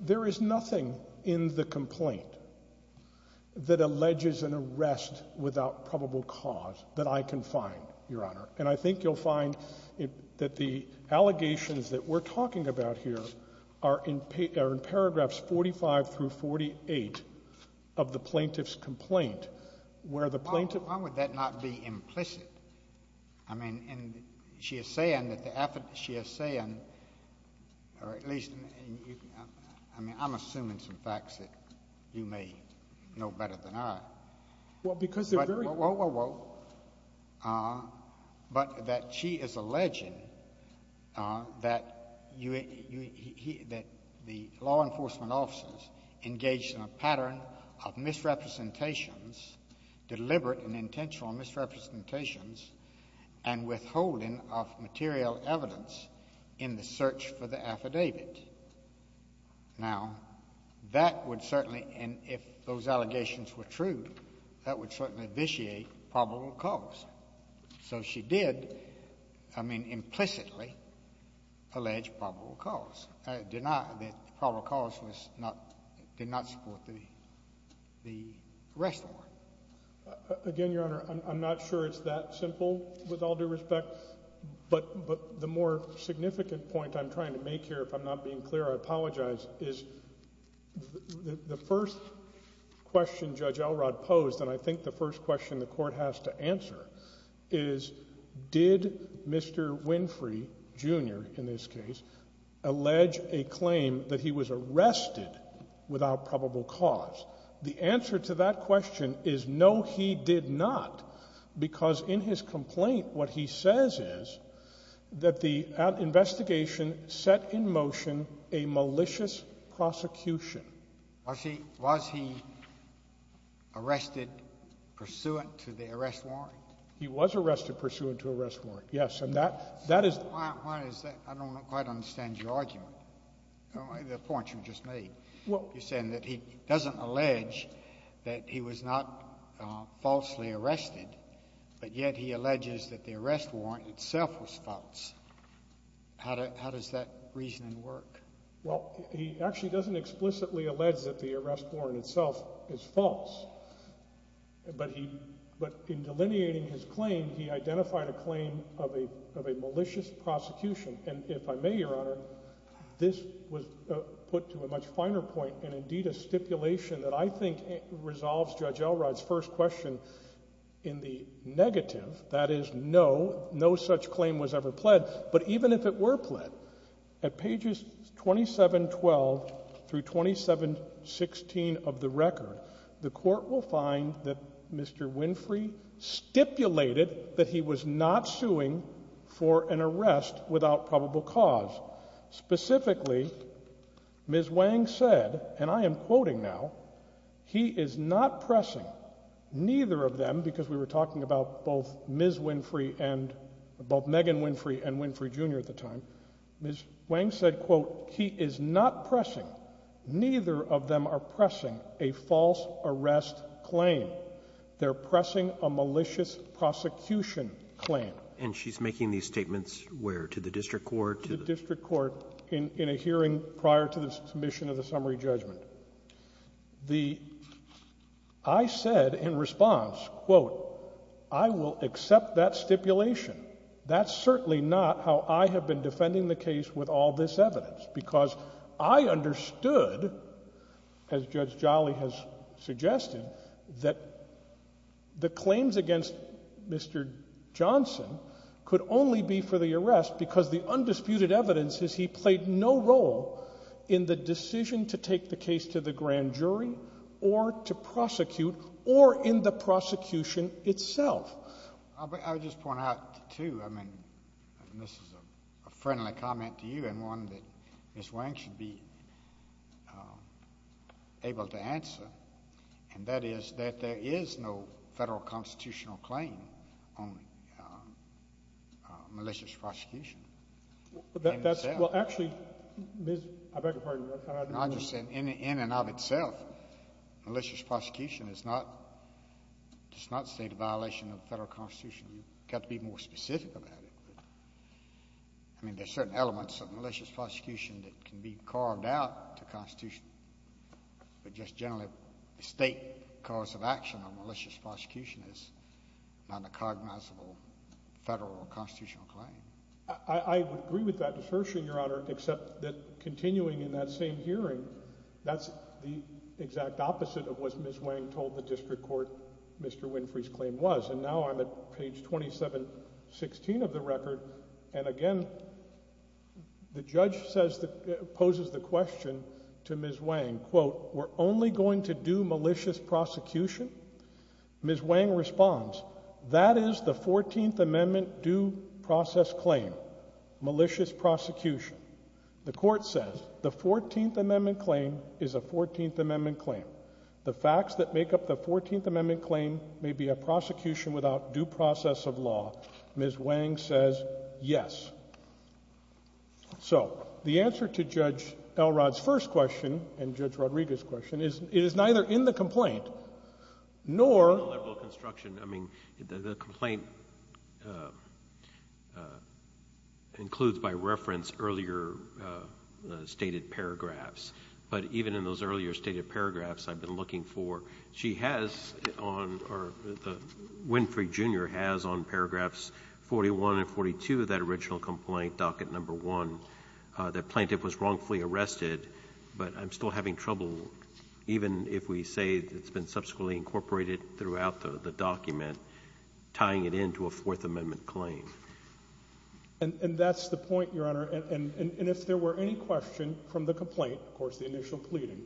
There is nothing in the complaint that alleges an arrest without probable cause that I can find, Your Honor. And I think you'll find that the allegations that we're talking about here are in paragraphs 45 through 48 of the plaintiff's complaint where the plaintiff— I mean, and she is saying that the—she is saying, or at least—I mean, I'm assuming some facts that you may know better than I. Well, because they're very— And withholding of material evidence in the search for the affidavits. Now, that would certainly—and if those allegations were true, that would certainly vitiate probable cause. So she did, I mean, implicitly, allege probable cause. It did not—probable cause was not—did not support the arrest warrant. Again, Your Honor, I'm not sure it's that simple with all due respect. But the more significant point I'm trying to make here, if I'm not being clear, I apologize, is the first question Judge Elrod posed, and I think the first question the Court has to answer, is did Mr. Winfrey, Jr., in this case, allege a claim that he was arrested without probable cause? The answer to that question is no, he did not, because in his complaint, what he says is that the investigation set in motion a malicious prosecution. Was he arrested pursuant to the arrest warrant? He was arrested pursuant to the arrest warrant, yes, and that is— I don't quite understand your argument, the point you just made. You're saying that he doesn't allege that he was not falsely arrested, but yet he alleges that the arrest warrant itself was false. How does that reasoning work? Well, he actually doesn't explicitly allege that the arrest warrant itself is false. But in delineating his claim, he identified a claim of a malicious prosecution, and if I may, Your Honor, this was put to a much finer point, and indeed a stipulation that I think resolves Judge Elrod's first question in the negative, that is, no, no such claim was ever pled, but even if it were pled, at pages 2712 through 2716 of the record, the court will find that Mr. Winfrey stipulated that he was not suing for an arrest without probable cause. Specifically, Ms. Wang said, and I am quoting now, he is not pressing, neither of them, because we were talking about both Ms. Winfrey and, both Megan Winfrey and Winfrey Jr. at the time, Ms. Wang said, quote, he is not pressing, neither of them are pressing a false arrest claim. They're pressing a malicious prosecution claim. And she's making these statements where, to the district court? To the district court in a hearing prior to the submission of the summary judgment. The, I said in response, quote, I will accept that stipulation. That's certainly not how I have been defending the case with all this evidence, because I understood, as Judge Jolly has suggested, that the claims against Mr. Johnson could only be for the arrest because the undisputed evidence is he played no role in the decision to take the case to the grand jury or to prosecute or in the prosecution itself. I would just point out, too, I mean, this is a friendly comment to you and one that Ms. Wang should be able to answer, and that is that there is no federal constitutional claim on malicious prosecution. Well, actually, I beg your pardon. In and of itself, malicious prosecution is not state of violation of the federal constitution. You've got to be more specific about it. I mean, there are certain elements of malicious prosecution that can be carved out of the constitution, but just generally the state cause of action on malicious prosecution is not a cognizable federal or constitutional claim. I agree with that assertion, Your Honor, except that continuing in that same hearing, that's the exact opposite of what Ms. Wang told the district court Mr. Winfrey's claim was. And now I'm at page 2716 of the record, and again, the judge poses the question to Ms. Wang, quote, we're only going to do malicious prosecution? Ms. Wang responds, that is the 14th Amendment due process claim, malicious prosecution. The court says the 14th Amendment claim is a 14th Amendment claim. The facts that make up the 14th Amendment claim may be a prosecution without due process of law. Ms. Wang says yes. So the answer to Judge Elrod's first question and Judge Rodriguez's question is, it is neither in the complaint, nor— The plaintiff was wrongfully arrested, but I'm still having trouble, even if we say it's been subsequently incorporated throughout the document, tying it into a Fourth Amendment claim. And that's the point, Your Honor. And if there were any question from the complaint, of course, the initial pleading,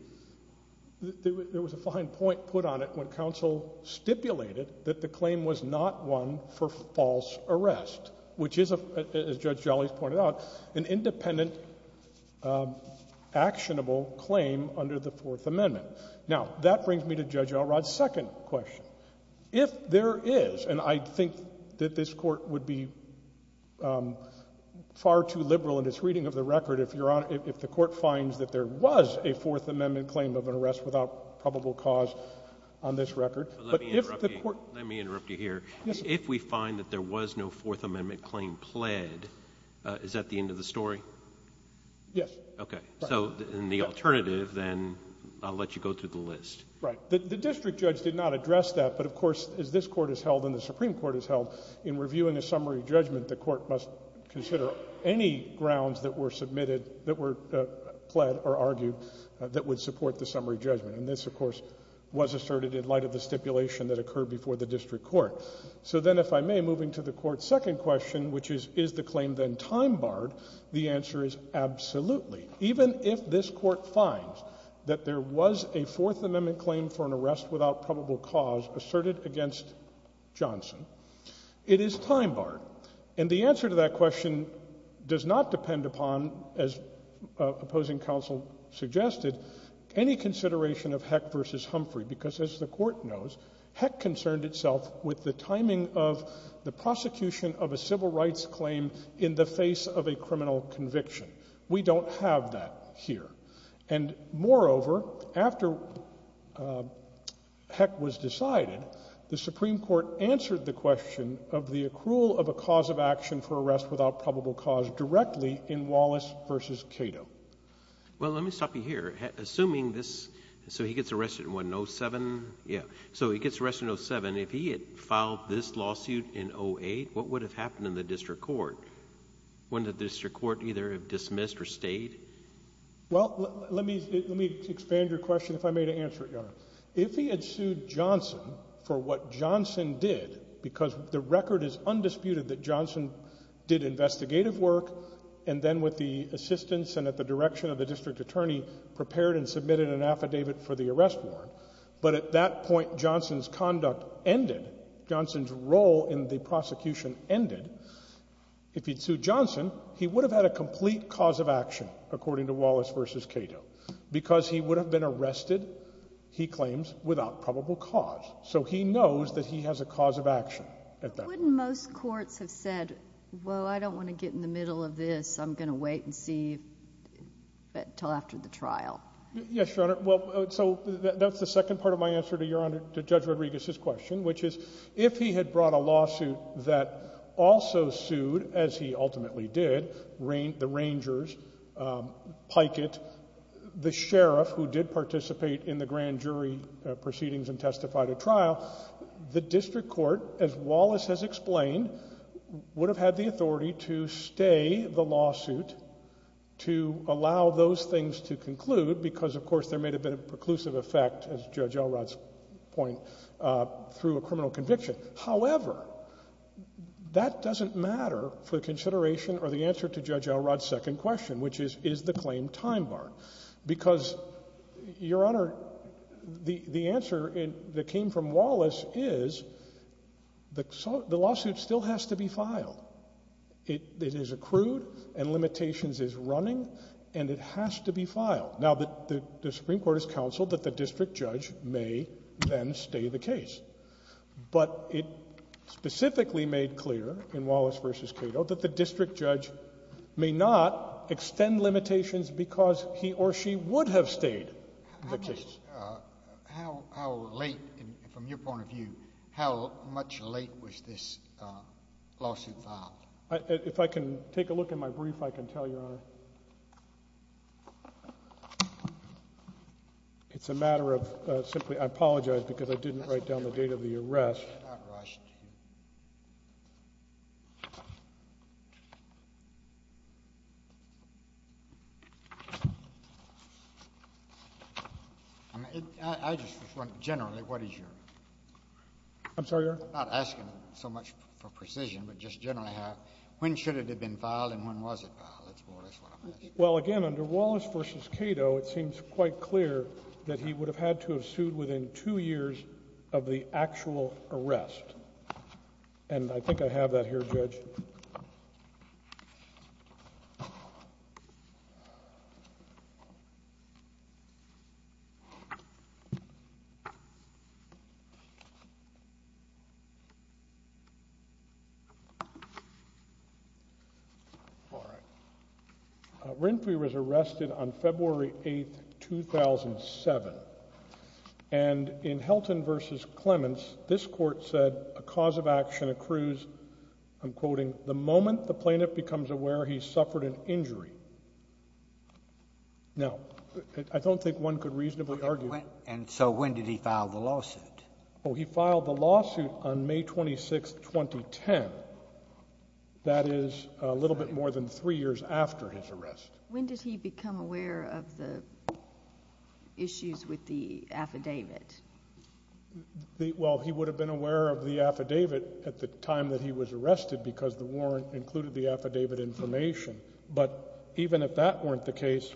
there was a fine point put on it when counsel stipulated that the claim was not one for false arrest, which is, as Judge Jolley's pointed out, an independent, actionable claim under the Fourth Amendment. Now, that brings me to Judge Elrod's second question. If there is, and I think that this Court would be far too liberal in its reading of the record if the Court finds that there was a Fourth Amendment claim of an arrest without probable cause on this record— Let me interrupt you here. If we find that there was no Fourth Amendment claim pled, is that the end of the story? Yes. Okay. So in the alternative, then, I'll let you go through the list. Right. The district judge did not address that, but, of course, as this Court has held and the Supreme Court has held, in reviewing a summary judgment, the Court must consider any grounds that were submitted, that were pled or argued, that would support the summary judgment. And this, of course, was asserted in light of the stipulation that occurred before the district court. So then, if I may, moving to the Court's second question, which is, is the claim then time barred, the answer is absolutely. Even if this Court finds that there was a Fourth Amendment claim for an arrest without probable cause asserted against Johnson, it is time barred. And the answer to that question does not depend upon, as opposing counsel suggested, any consideration of Heck v. Humphrey, because, as the Court knows, Heck concerned itself with the timing of the prosecution of a civil rights claim in the face of a criminal conviction. We don't have that here. And, moreover, after Heck was decided, the Supreme Court answered the question of the accrual of a cause of action for arrest without probable cause directly in Wallace v. Cato. Well, let me stop you here. Assuming this—so he gets arrested in, what, in 07? Yeah. So he gets arrested in 07. If he had filed this lawsuit in 08, what would have happened in the district court? Wouldn't the district court either have dismissed or stayed? Well, let me expand your question, if I may, to answer it, Your Honor. If he had sued Johnson for what Johnson did, because the record is undisputed that Johnson did investigative work and then, with the assistance and at the direction of the district attorney, prepared and submitted an affidavit for the arrest warrant, but at that point Johnson's conduct ended, Johnson's role in the prosecution ended, if he'd sued Johnson, he would have had a complete cause of action, according to Wallace v. Cato. Because he would have been arrested, he claims, without probable cause. So he knows that he has a cause of action at that point. Wouldn't most courts have said, well, I don't want to get in the middle of this, I'm going to wait and see until after the trial? Yes, Your Honor. So that's the second part of my answer to Judge Rodriguez's question, which is, if he had brought a lawsuit that also sued, as he ultimately did, the Rangers, Pikett, the sheriff who did participate in the grand jury proceedings and testified at trial, the district court, as Wallace has explained, would have had the authority to stay the lawsuit, to allow those things to conclude, because of course there may have been a preclusive effect, as Judge Elrod's point, through a criminal conviction. However, that doesn't matter for consideration of the answer to Judge Elrod's second question, which is, is the claim time bar? Because, Your Honor, the answer that came from Wallace is, the lawsuit still has to be filed. It is accrued, and limitations is running, and it has to be filed. Now, the Supreme Court has counseled that the district judge may then stay the case. But it specifically made clear, in Wallace v. Cato, that the district judge may not extend limitations because he or she would have stayed the case. Judge, how late, from your point of view, how much late was this lawsuit filed? If I can take a look at my brief, I can tell you, Your Honor. It's a matter of, simply, I apologize because I didn't write down the date of the arrest. I just, generally, what is your... I'm sorry, Your Honor? I'm not asking so much for precision, but just generally, when should it have been filed and when was it filed? Well, again, under Wallace v. Cato, it seems quite clear that he would have had to have sued within two years of the actual arrest. And I think I have that here, Judge. Winfrey was arrested on February 8, 2007. And in Helton v. Clements, this court said a cause of action accrues, I'm quoting, the moment the plaintiff becomes aware he's suffered an injury. Now, I don't think one could reasonably argue... And so when did he file the lawsuit? Well, he filed the lawsuit on May 26, 2010. That is a little bit more than three years after his arrest. When did he become aware of the issues with the affidavit? Well, he would have been aware of the affidavit at the time that he was arrested because the warrant included the affidavit information. But even if that weren't the case...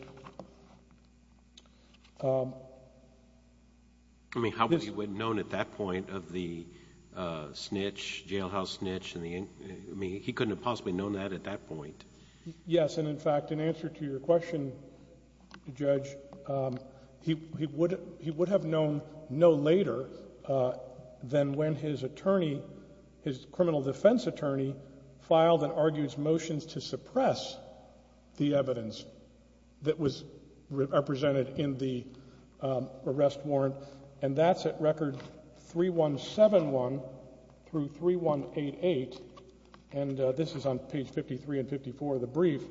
I mean, how would he have known at that point of the snitch, jailhouse snitch? I mean, he couldn't have possibly known that at that point. Yes, and in fact, in answer to your question, Judge, he would have known no later than when his attorney, his criminal defense attorney, filed an arduous motion to suppress the evidence that was represented in the arrest warrant. And that's at record 3171 through 3188. And this is on page 53 and 54 of the brief.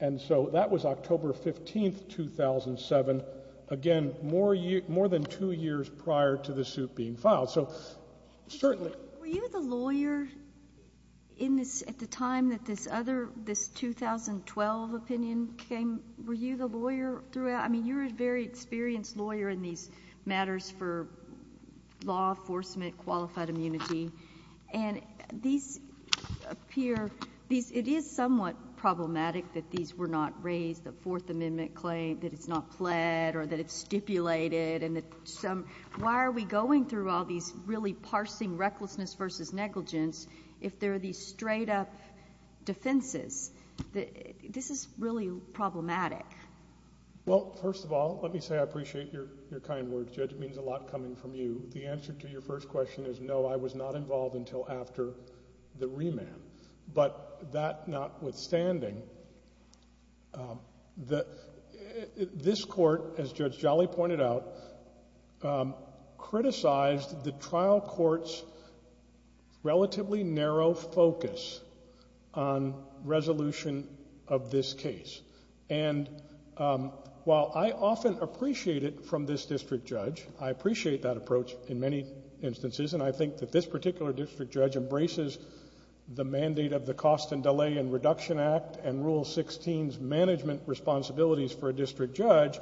And so that was October 15, 2007. Again, more than two years prior to the suit being filed. Were you the lawyer at the time that this 2012 opinion came? Were you the lawyer throughout? I mean, you're a very experienced lawyer in these matters for law enforcement, qualified immunity. And it is somewhat problematic that these were not raised, the Fourth Amendment claim, that it's not fled or that it's stipulated. Why are we going through all these really parsing recklessness versus negligence if there are these straight-up defenses? This is really problematic. Well, first of all, let me say I appreciate your kind words, Judge. It means a lot coming from you. The answer to your first question is no, I was not involved until after the remand. But that notwithstanding, this court, as Judge Jolly pointed out, criticized the trial court's relatively narrow focus on resolution of this case. And while I often appreciate it from this district judge, I appreciate that approach in many instances, and I think that this particular district judge embraces the mandate of the Cost and Delay and Reduction Act and Rule 16's management responsibilities for a district judge.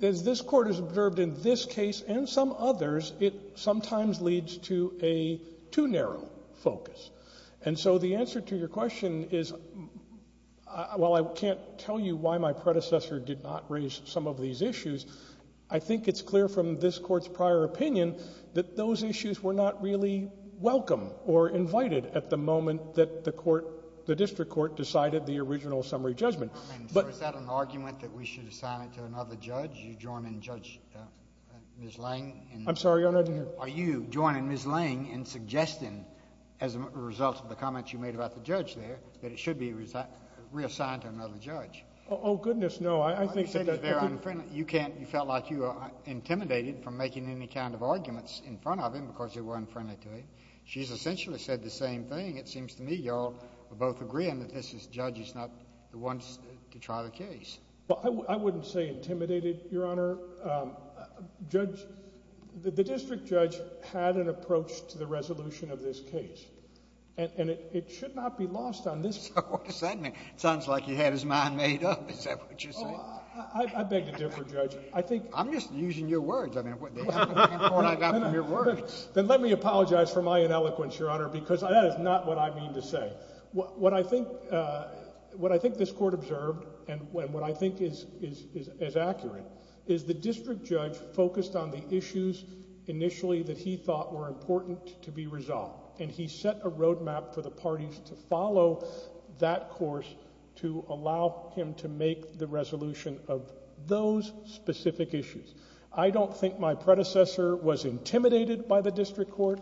But as this court has observed in this case and some others, it sometimes leads to a too narrow focus. And so the answer to your question is, while I can't tell you why my predecessor did not raise some of these issues, I think it's clear from this court's prior opinion that those issues were not really welcome or invited at the moment that the district court decided the original summary judgment. Is that an argument that we should assign it to another judge? Are you joining Ms. Lange in suggesting, as a result of the comments you made about the judge there, that it should be reassigned to another judge? Oh, goodness, no. I think that— I wouldn't say intimidated, Your Honor. The district judge had an approach to the resolution of this case. And it should not be lost on this court. Well, all of a sudden, it sounds like you had his mind made up. Is that what you said? Oh, I beg to differ, Judge. I think— I'm just using your words. I mean, what— Then let me apologize for my ineloquence, Your Honor, because that is not what I mean to say. What I think this court observed, and what I think is accurate, is the district judge focused on the issues initially that he thought were important to be resolved. And he set a roadmap for the parties to follow that course to allow him to make the resolution of those specific issues. I don't think my predecessor was intimidated by the district court.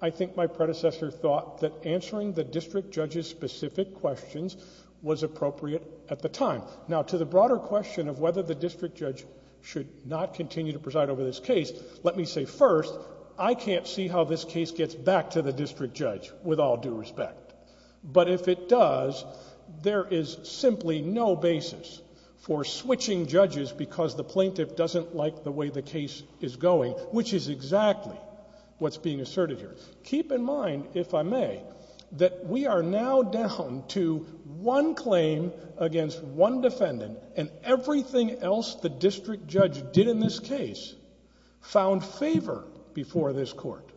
I think my predecessor thought that answering the district judge's specific questions was appropriate at the time. Now, to the broader question of whether the district judge should not continue to preside over this case, let me say first, I can't see how this case gets back to the district judge, with all due respect. But if it does, there is simply no basis for switching judges because the plaintiff doesn't like the way the case is going, which is exactly what's being asserted here. Keep in mind, if I may, that we are now down to one claim against one defendant, and everything else the district judge did in this case found favor before this court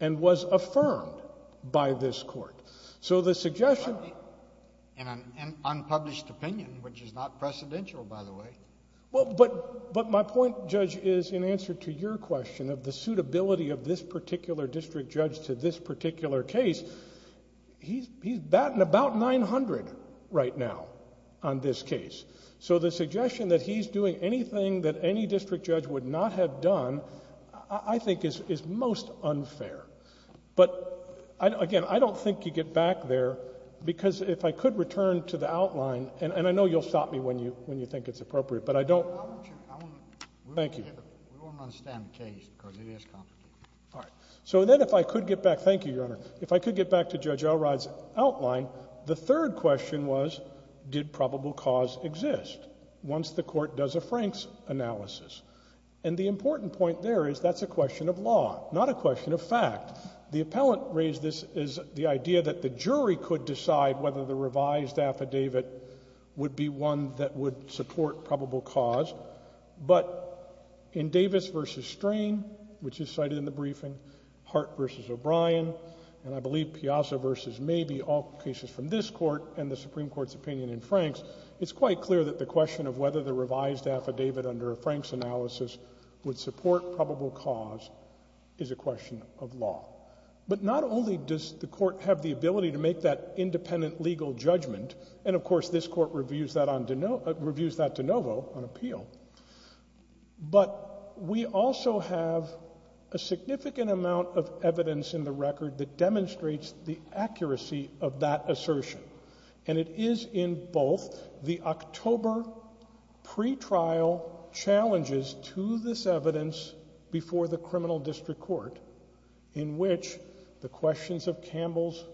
and was affirmed by this court. In an unpublished opinion, which is not precedential, by the way. But my point, Judge, is in answer to your question of the suitability of this particular district judge to this particular case, he's batting about 900 right now on this case. So the suggestion that he's doing anything that any district judge would not have done, I think is most unfair. But again, I don't think you get back there. Because if I could return to the outline, and I know you'll stop me when you think it's appropriate, but I don't. Thank you. So then if I could get back, thank you, Your Honor. If I could get back to Judge Elrod's outline, the third question was, did probable cause exist? Once the court does a Frank's analysis. And the important point there is that's a question of law, not a question of fact. The appellant raised this as the idea that the jury could decide whether the revised affidavit would be one that would support probable cause. But in Davis v. Strain, which you cited in the briefing, Hart v. O'Brien, and I believe Piazza v. maybe all cases from this court and the Supreme Court's opinion in Frank's, it's quite clear that the question of whether the revised affidavit under Frank's analysis would support probable cause is a question of law. But not only does the court have the ability to make that independent legal judgment, and of course this court reviews that de novo on appeal, but we also have a significant amount of evidence in the record that demonstrates the accuracy of that assertion. And it is in both the October pretrial challenges to this evidence before the criminal district court, in which the questions of Campbell's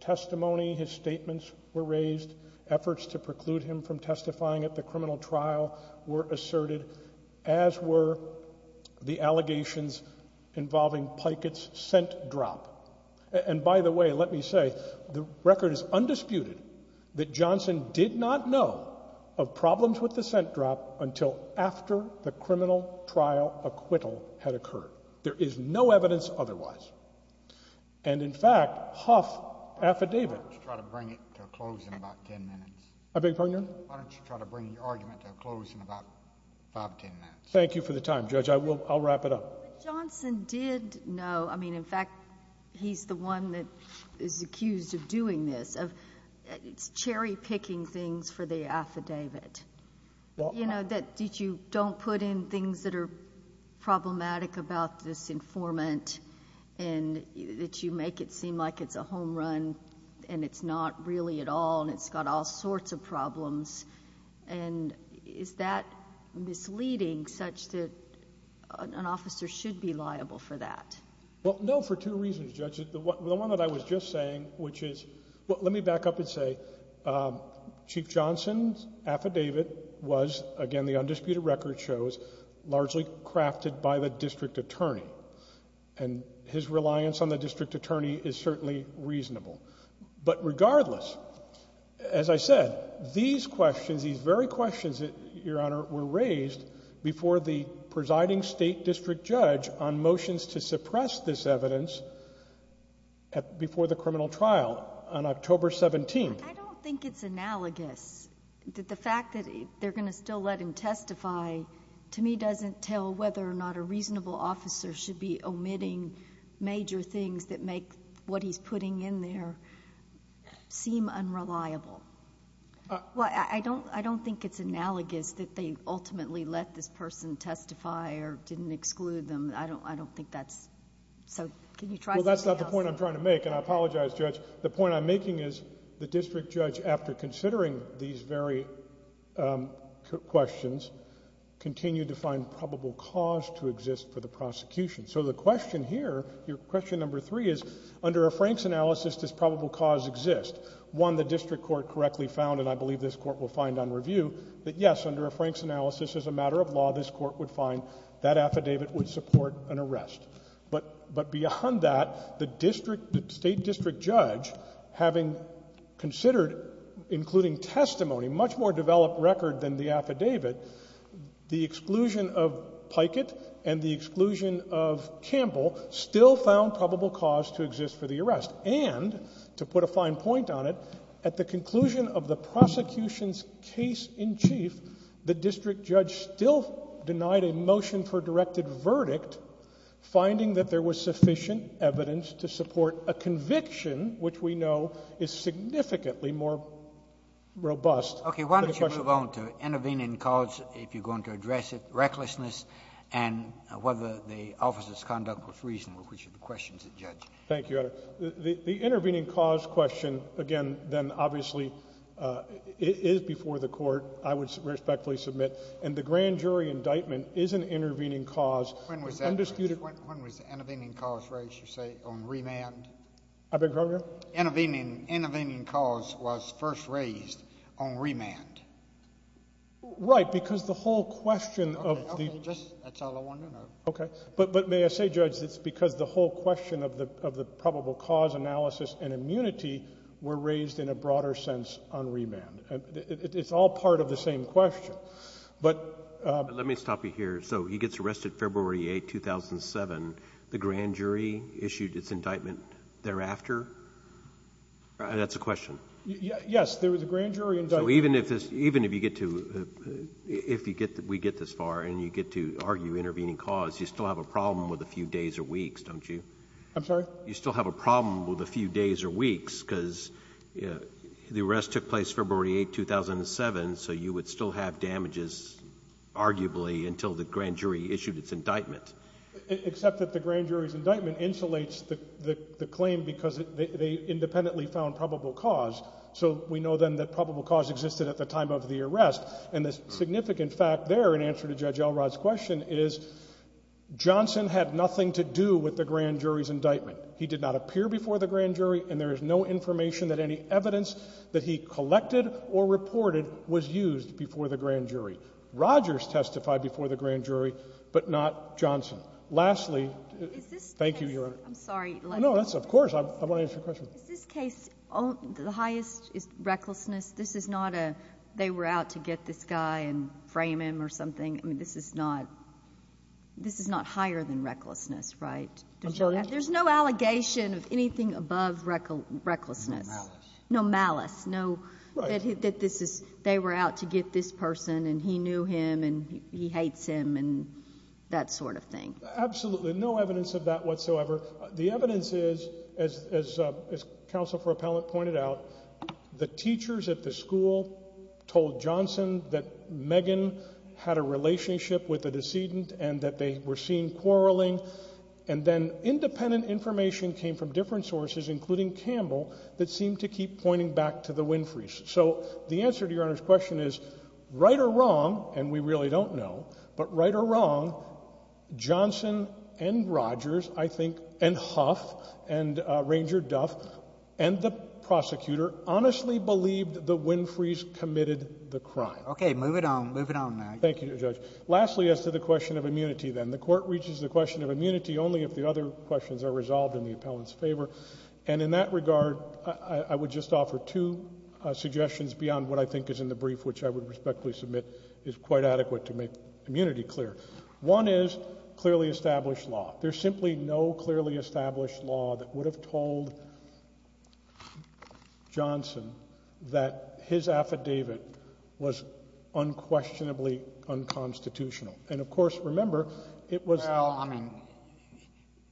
testimony, his statements were raised, efforts to preclude him from testifying at the criminal trial were asserted, as were the allegations involving Pikett's scent drop. And by the way, let me say, the record is undisputed that Johnson did not know of problems with the scent drop until after the criminal trial acquittal had occurred. There is no evidence otherwise. And in fact, Huff's affidavit… Why don't you try to bring it to a close in about ten minutes? I beg your pardon? Why don't you try to bring the argument to a close in about ten minutes? Thank you for the time, Judge. I'll wrap it up. Well, Johnson did know. I mean, in fact, he's the one that is accused of doing this, of cherry-picking things for the affidavit. You know, that you don't put in things that are problematic about this informant, and that you make it seem like it's a home run, and it's not really at all, and it's got all sorts of problems. And is that misleading such that an officer should be liable for that? Well, no, for two reasons, Judge. The one that I was just saying, which is… Well, let me back up and say, Chief Johnson's affidavit was, again, the undisputed record shows, largely crafted by the district attorney. And his reliance on the district attorney is certainly reasonable. But regardless, as I said, these questions, these very questions, Your Honor, were raised before the presiding state district judge on motions to suppress this evidence before the criminal trial on October 17th. I don't think it's analogous that the fact that they're going to still let him testify, to me, doesn't tell whether or not a reasonable officer should be omitting major things that make what he's putting in there seem unreliable. I don't think it's analogous that they ultimately let this person testify or didn't exclude them. I don't think that's… Well, that's not the point I'm trying to make, and I apologize, Judge. The point I'm making is the district judge, after considering these very questions, continued to find probable cause to exist for the prosecution. So the question here, your question number three is, under a Frank's analysis, does probable cause exist? One, the district court correctly found, and I believe this court will find on review, that yes, under a Frank's analysis, as a matter of law, this court would find that affidavit would support an arrest. But beyond that, the state district judge, having considered, including testimony, much more developed record than the affidavit, the exclusion of Pikett and the exclusion of Campbell still found probable cause to exist for the arrest. And, to put a fine point on it, at the conclusion of the prosecution's case in chief, the district judge still denied a motion for directed verdict, finding that there was sufficient evidence to support a conviction, which we know is significantly more robust. Okay, why don't you move on to intervening cause, if you're going to address it, recklessness, and whether the officer's conduct was reasonable, which are the questions of the judge. Thank you, Your Honor. The intervening cause question, again, then, obviously, is before the court, I would respectfully submit. And the grand jury indictment is an intervening cause. When was the intervening cause raised, you say, on remand? I beg your pardon? Intervening cause was first raised on remand. Right, because the whole question of the – Okay, that's all I want to know. Okay. But may I say, Judge, it's because the whole question of the probable cause analysis and immunity were raised in a broader sense on remand. It's all part of the same question. But – Let me stop you here. So he gets arrested February 8, 2007. The grand jury issued its indictment thereafter? That's a question. Yes, there was a grand jury indictment. Even if we get this far and you get to argue intervening cause, you still have a problem with a few days or weeks, don't you? I'm sorry? You still have a problem with a few days or weeks because the arrest took place February 8, 2007, so you would still have damages, arguably, until the grand jury issued its indictment. Except that the grand jury's indictment insulates the claim because they independently found probable cause. So we know then that probable cause existed at the time of the arrest, and the significant fact there in answer to Judge Elrod's question is Johnson had nothing to do with the grand jury's indictment. He did not appear before the grand jury, and there is no information that any evidence that he collected or reported was used before the grand jury. Rogers testified before the grand jury, but not Johnson. Lastly – Is this – Thank you, Your Honor. I'm sorry. No, that's – of course. I want to answer your question. In this case, the highest is recklessness. This is not a they were out to get this guy and frame him or something. I mean, this is not – this is not higher than recklessness, right? There's no allegation of anything above recklessness. No malice. No malice. No that this is – they were out to get this person, and he knew him, and he hates him, and that sort of thing. Absolutely. No evidence of that whatsoever. The evidence is, as Counsel for Appellant pointed out, the teachers at the school told Johnson that Megan had a relationship with a decedent and that they were seen quarreling, and then independent information came from different sources, including Campbell, that seemed to keep pointing back to the Winfrey's. So the answer to Your Honor's question is, right or wrong, and we really don't know, but right or wrong, Johnson and Rogers, I think, and Huff and Ranger Duff and the prosecutor honestly believed that Winfrey's committed the crime. Okay. Move it on. Move it on, Mary. Thank you, Judge. Lastly, as to the question of immunity, then, the Court reaches the question of immunity only if the other questions are resolved in the appellant's favor, and in that regard, I would just offer two suggestions beyond what I think is in the brief, which I would respectfully submit is quite adequate to make immunity clear. One is clearly established law. There's simply no clearly established law that would have told Johnson that his affidavit was unquestionably unconstitutional. And, of course, remember, it was — Well, I mean,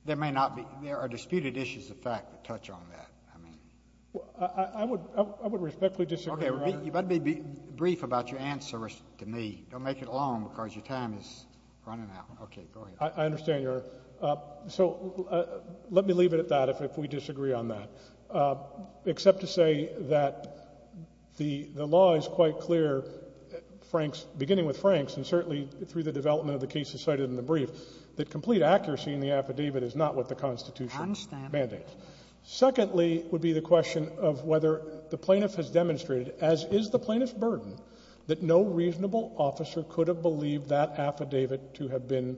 there may not be — there are disputed issues, in fact, that touch on that. I mean — I would respectfully disagree. Okay. You better be brief about your answer to me. Don't make it long because your time is running out. Okay. Go ahead. I understand, Your Honor. So let me leave it at that if we disagree on that, except to say that the law is quite clear, beginning with Frank's, and certainly through the development of the cases cited in the brief, I understand. Secondly would be the question of whether the plaintiff has demonstrated, as is the plaintiff's burden, that no reasonable officer could have believed that affidavit to have been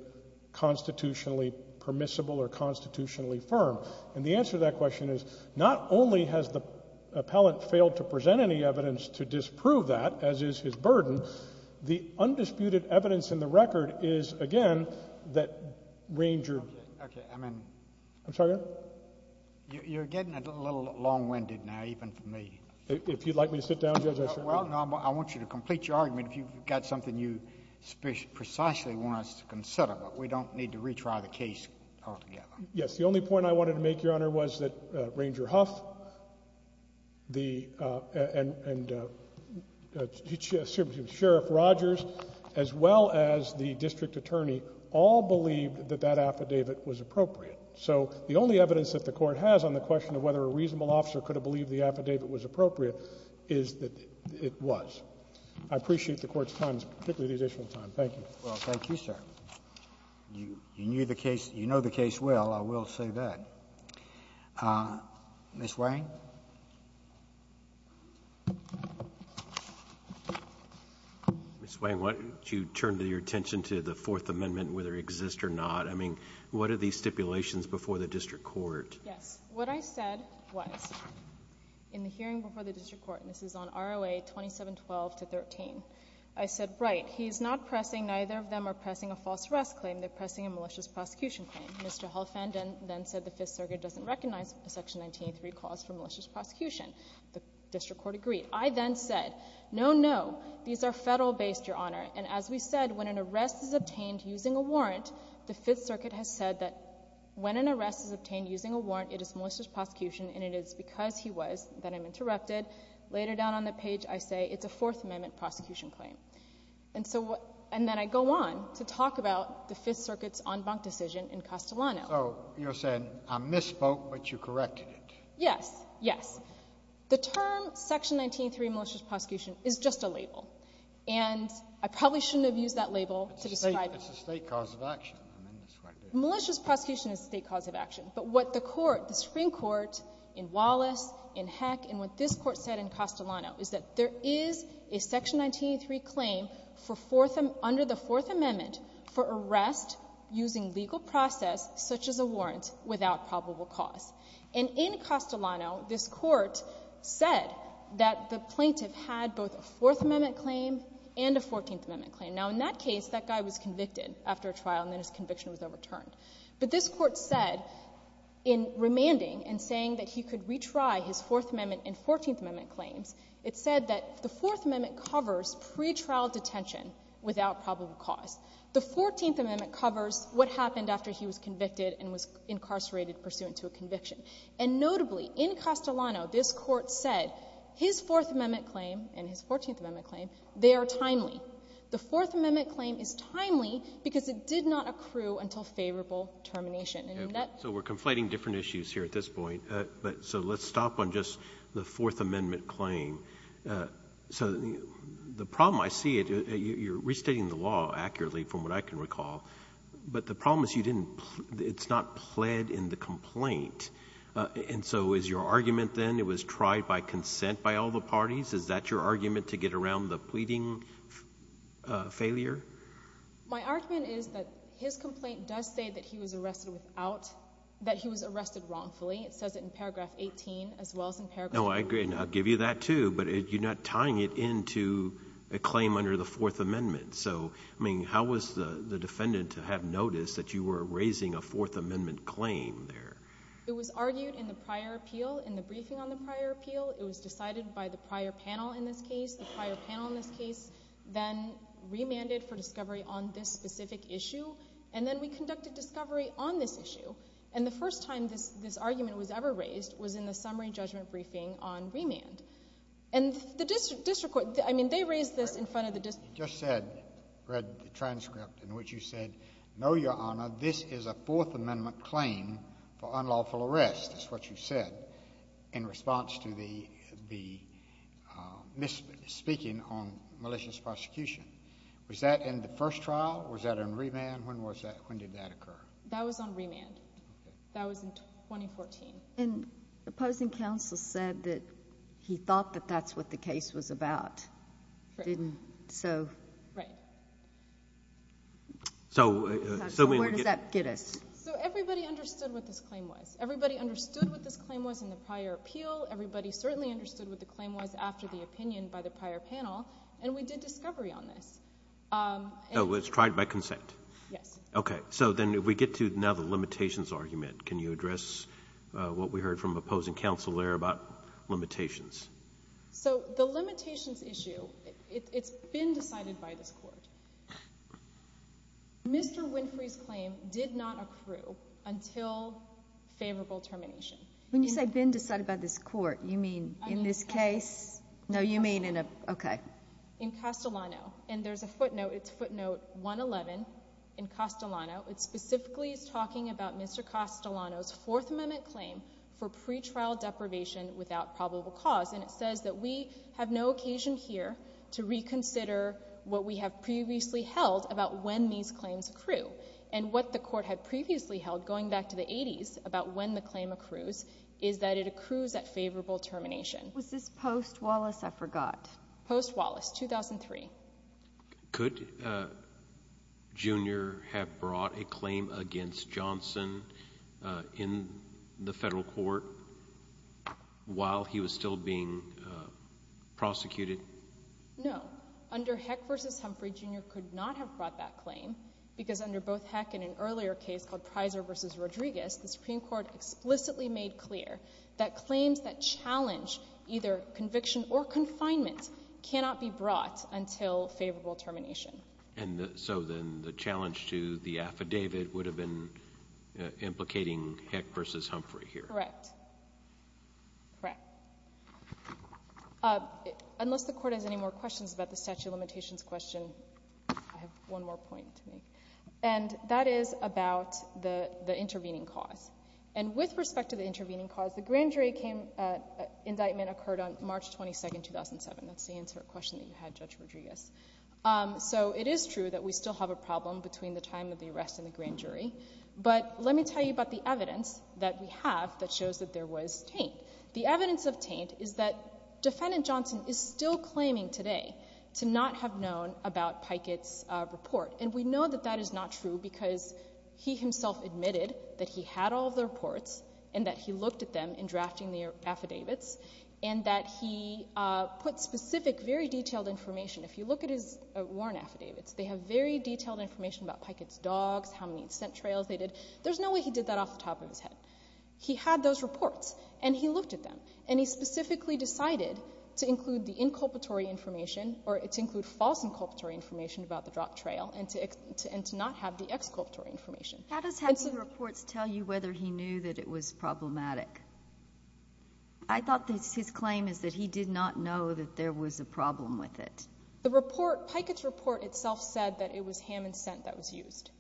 constitutionally permissible or constitutionally firm. And the answer to that question is not only has the appellant failed to present any evidence to disprove that, as is his burden, the undisputed evidence in the record is, again, that Ranger — Okay. I'm — I'm sorry, Your Honor? You're getting a little long-winded now, even for me. If you'd like me to sit down, Judge, I'll sit down. Well, no, I want you to complete your argument. You've got something you precisely want us to consider, but we don't need to retry the case altogether. Yes. The only point I wanted to make, Your Honor, was that Ranger Huff and Sheriff Rogers, as well as the district attorney, all believed that that affidavit was appropriate. So the only evidence that the Court has on the question of whether a reasonable officer could have believed the affidavit was appropriate is that it was. I appreciate the Court's time, particularly the additional time. Thank you. Well, thank you, sir. You knew the case — you know the case well, I will say that. Ms. Wang? Ms. Wang, I want you to turn your attention to the Fourth Amendment, whether it exists or not. I mean, what are these stipulations before the district court? Yes. What I said was, in the hearing before the district court, and this is on ROA 2712-13, I said, Right, he's not pressing — neither of them are pressing a false arrest claim. They're pressing a malicious prosecution claim. Mr. Huff and then said the Fifth Circuit doesn't recognize the Section 1903 clause for malicious prosecution. The district court agreed. I then said, No, no, these are federal-based, Your Honor. And as we said, when an arrest is obtained using a warrant, the Fifth Circuit has said that when an arrest is obtained using a warrant, it is malicious prosecution, and it is because he was then interrupted. Later down on the page, I say it's a Fourth Amendment prosecution claim. And then I go on to talk about the Fifth Circuit's en banc decision in Castellano. Oh, you're saying I misspoke, but you corrected it. Yes, yes. The term Section 1903 malicious prosecution is just a label. And I probably shouldn't have used that label to describe it. It's a state cause of action. Malicious prosecution is a state cause of action. But what the Court, the Supreme Court in Wallace, in Heck, and what this Court said in Castellano is that there is a Section 1903 claim for fourth — under the Fourth Amendment for arrest using legal process such as a warrant without probable cause. And in Castellano, this Court said that the plaintiff had both a Fourth Amendment claim and a Fourteenth Amendment claim. Now, in that case, that guy was convicted after a trial, and then his conviction was overturned. But this Court said, in remanding and saying that he could retry his Fourth Amendment and Fourteenth Amendment claims, it said that the Fourth Amendment covers pretrial detention without probable cause. The Fourteenth Amendment covers what happened after he was convicted and was incarcerated pursuant to a conviction. And notably, in Castellano, this Court said his Fourth Amendment claim and his Fourteenth Amendment claim, they are timely. The Fourth Amendment claim is timely because it did not accrue until favorable termination. I mean, that's — So we're conflating different issues here at this point. So let's stop on just the Fourth Amendment claim. So the problem, I see it. You're restating the law accurately, from what I can recall. But the problem is you didn't — it's not pled in the complaint. And so is your argument, then, it was tried by consent by all the parties? Is that your argument to get around the pleading failure? My argument is that his complaint does say that he was arrested without — that he was arrested wrongfully. No, I agree. And I'll give you that, too. But you're not tying it into a claim under the Fourth Amendment. So, I mean, how was the defendant to have noticed that you were raising a Fourth Amendment claim there? It was argued in the prior appeal, in the briefing on the prior appeal. It was decided by the prior panel in this case. The prior panel in this case then remanded for discovery on this specific issue. And then we conducted discovery on this issue. And the first time this argument was ever raised was in the summary judgment briefing on remand. And the district court — I mean, they raised it in front of the district court. You just said — read the transcript in which you said, No, Your Honor, this is a Fourth Amendment claim for unlawful arrest, is what you said, in response to the misspeaking on malicious prosecution. Was that in the first trial? Was that in remand? When was that? When did that occur? That was on remand. That was in 2014. And opposing counsel said that he thought that that's what the case was about. Right. Didn't so — Right. So, where does that get us? So, everybody understood what this claim was. Everybody understood what this claim was in the prior appeal. Everybody certainly understood what the claim was after the opinion by the prior panel. And we did discovery on this. So, it was tried by consent? Yes. Okay. So, then we get to now the limitations argument. Can you address what we heard from opposing counsel there about limitations? So, the limitations issue, it's been decided by the court. Mr. Winfrey's claim did not accrue until favorable termination. When you say been decided by this court, you mean in this case? No, you mean in a — okay. In Castellano. In Castellano. And there's a footnote. It's footnote 111 in Castellano. It's specifically talking about Mr. Castellano's Fourth Amendment claim for pretrial deprivation without probable cause. And it says that we have no occasion here to reconsider what we have previously held about when these claims accrue. And what the court had previously held, going back to the 80s, about when the claim accrues, is that it accrues at favorable termination. Was this post-Wallace? I forgot. Post-Wallace, 2003. Could Junior have brought a claim against Johnson in the federal court while he was still being prosecuted? No. Under Heck v. Humphrey, Junior could not have brought that claim because under both Heck and an earlier case called Pizer v. Rodriguez, the Supreme Court explicitly made clear that claims that challenge either conviction or confinement cannot be brought until favorable termination. And so then the challenge to the affidavit would have been implicating Heck v. Humphrey here. Correct. Correct. Unless the court has any more questions about the statute of limitations question, I have one more point to make. And that is about the intervening cause. And with respect to the intervening cause, the grand jury indictment occurred on March 22, 2007. That's the answer to the question you had, Judge Rodriguez. So it is true that we still have a problem between the time of the arrest and the grand jury. But let me tell you about the evidence that we have that shows that there was taint. The evidence of taint is that Defendant Johnson is still claiming today to not have known about Pikett's report. And we know that that is not true because he himself admitted that he had all the reports and that he looked at them in drafting the affidavits and that he put specific, very detailed information. If you look at his warrant affidavits, they have very detailed information about Pikett's dogs, how many scent trails they did. There's no way he did that off the top of his head. He had those reports and he looked at them. And he specifically decided to include the inculpatory information or to include false inculpatory information about the drop trail and to not have the exculpatory information. How does his report tell you whether he knew that it was problematic? I thought his claim is that he did not know that there was a problem with it. The report, Pikett's report itself said that it was ham and scent that was used.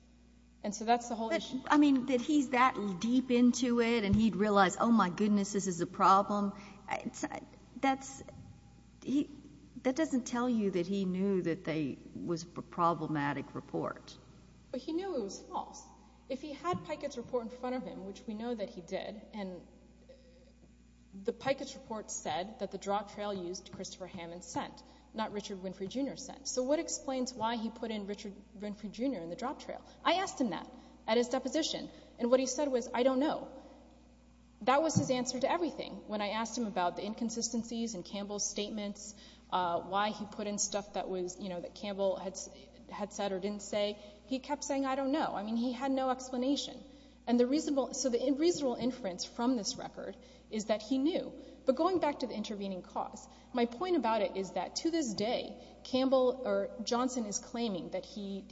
And so that's the whole issue. I mean, that he's that deep into it and he'd realize, oh, my goodness, this is a problem. That doesn't tell you that he knew that they were problematic reports. But he knew it was false. If he had Pikett's report in front of him, which we know that he did, and the Pikett's report said that the drop trail used Christopher Hammond's scent, not Richard Winfrey, Jr.'s scent. So what explains why he put in Richard Winfrey, Jr. in the drop trail? I asked him that at his deposition. And what he said was, I don't know. That was his answer to everything. When I asked him about the inconsistencies in Campbell's statements, why he put in stuff that Campbell had said or didn't say, he kept saying, I don't know. I mean, he had no explanation. So the reasonable inference from this record is that he knew. But going back to the intervening cause, my point about it is that to this day, Johnson is claiming that he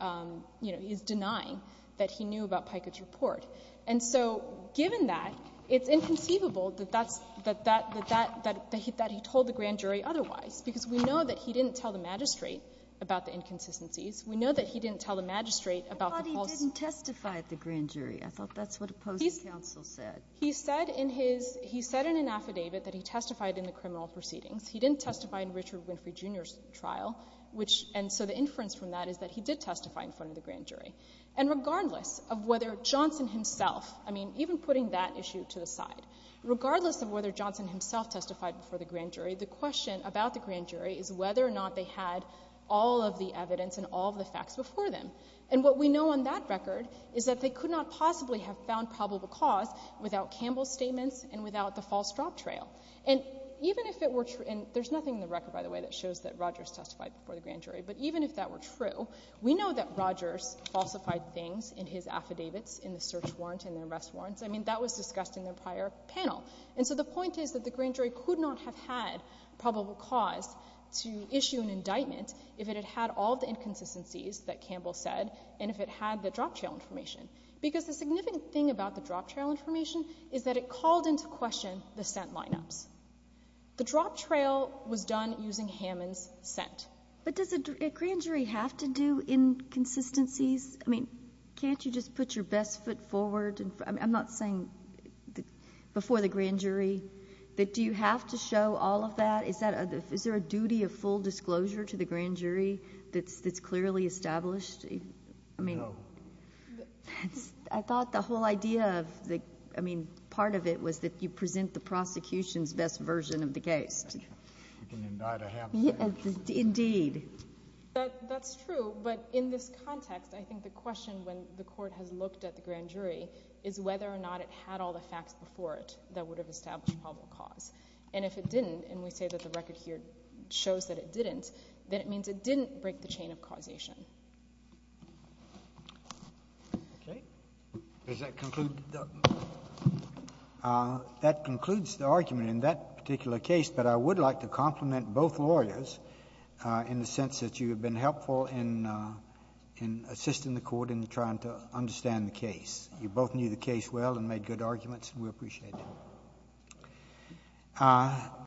is denying that he knew about Pikett's report. And so given that, it's inconceivable that he told the grand jury otherwise, because we know that he didn't tell the magistrate about the inconsistencies. We know that he didn't tell the magistrate about the false ‑‑ Well, he didn't testify at the grand jury. I thought that's what the Postal Council said. He said in an affidavit that he testified in the criminal proceedings. He didn't testify in Richard Winfrey Jr.'s trial. And so the inference from that is that he did testify in front of the grand jury. And regardless of whether Johnson himself, I mean, even putting that issue to the side, regardless of whether Johnson himself testified before the grand jury, the question about the grand jury is whether or not they had all of the evidence and all of the facts before them. And what we know on that record is that they could not possibly have found probable cause without Campbell's statements and without the false drop trail. And even if it were true, and there's nothing in the record, by the way, that shows that Rogers testified before the grand jury, but even if that were true, we know that Rogers falsified things in his affidavits, in the search warrants and the arrest warrants. I mean, that was discussed in the prior panel. And so the point is that the grand jury could not have had probable cause to issue an indictment if it had had all of the inconsistencies that Campbell said and if it had the drop trail information. Because the significant thing about the drop trail information is that it called into question the scent lineup. The drop trail was done using Hammond's scent. But does a grand jury have to do inconsistencies? I mean, can't you just put your best foot forward? I'm not saying before the grand jury, but do you have to show all of that? Is there a duty of full disclosure to the grand jury that's clearly established? No. I thought the whole idea of the, I mean, part of it was that you present the prosecution's best version of the case. You can indict a Hammond. Indeed. That's true, but in this context, I think the question when the court had looked at the grand jury is whether or not it had all the facts before it that would have established probable cause. And if it didn't, and we say that the record here shows that it didn't, then it means it didn't break the chain of causation. Okay. Does that conclude the argument? That concludes the argument in that particular case, but I would like to compliment both lawyers in the sense that you have been helpful in assisting the court in trying to understand the case. You both knew the case well and made good arguments, and we appreciate it.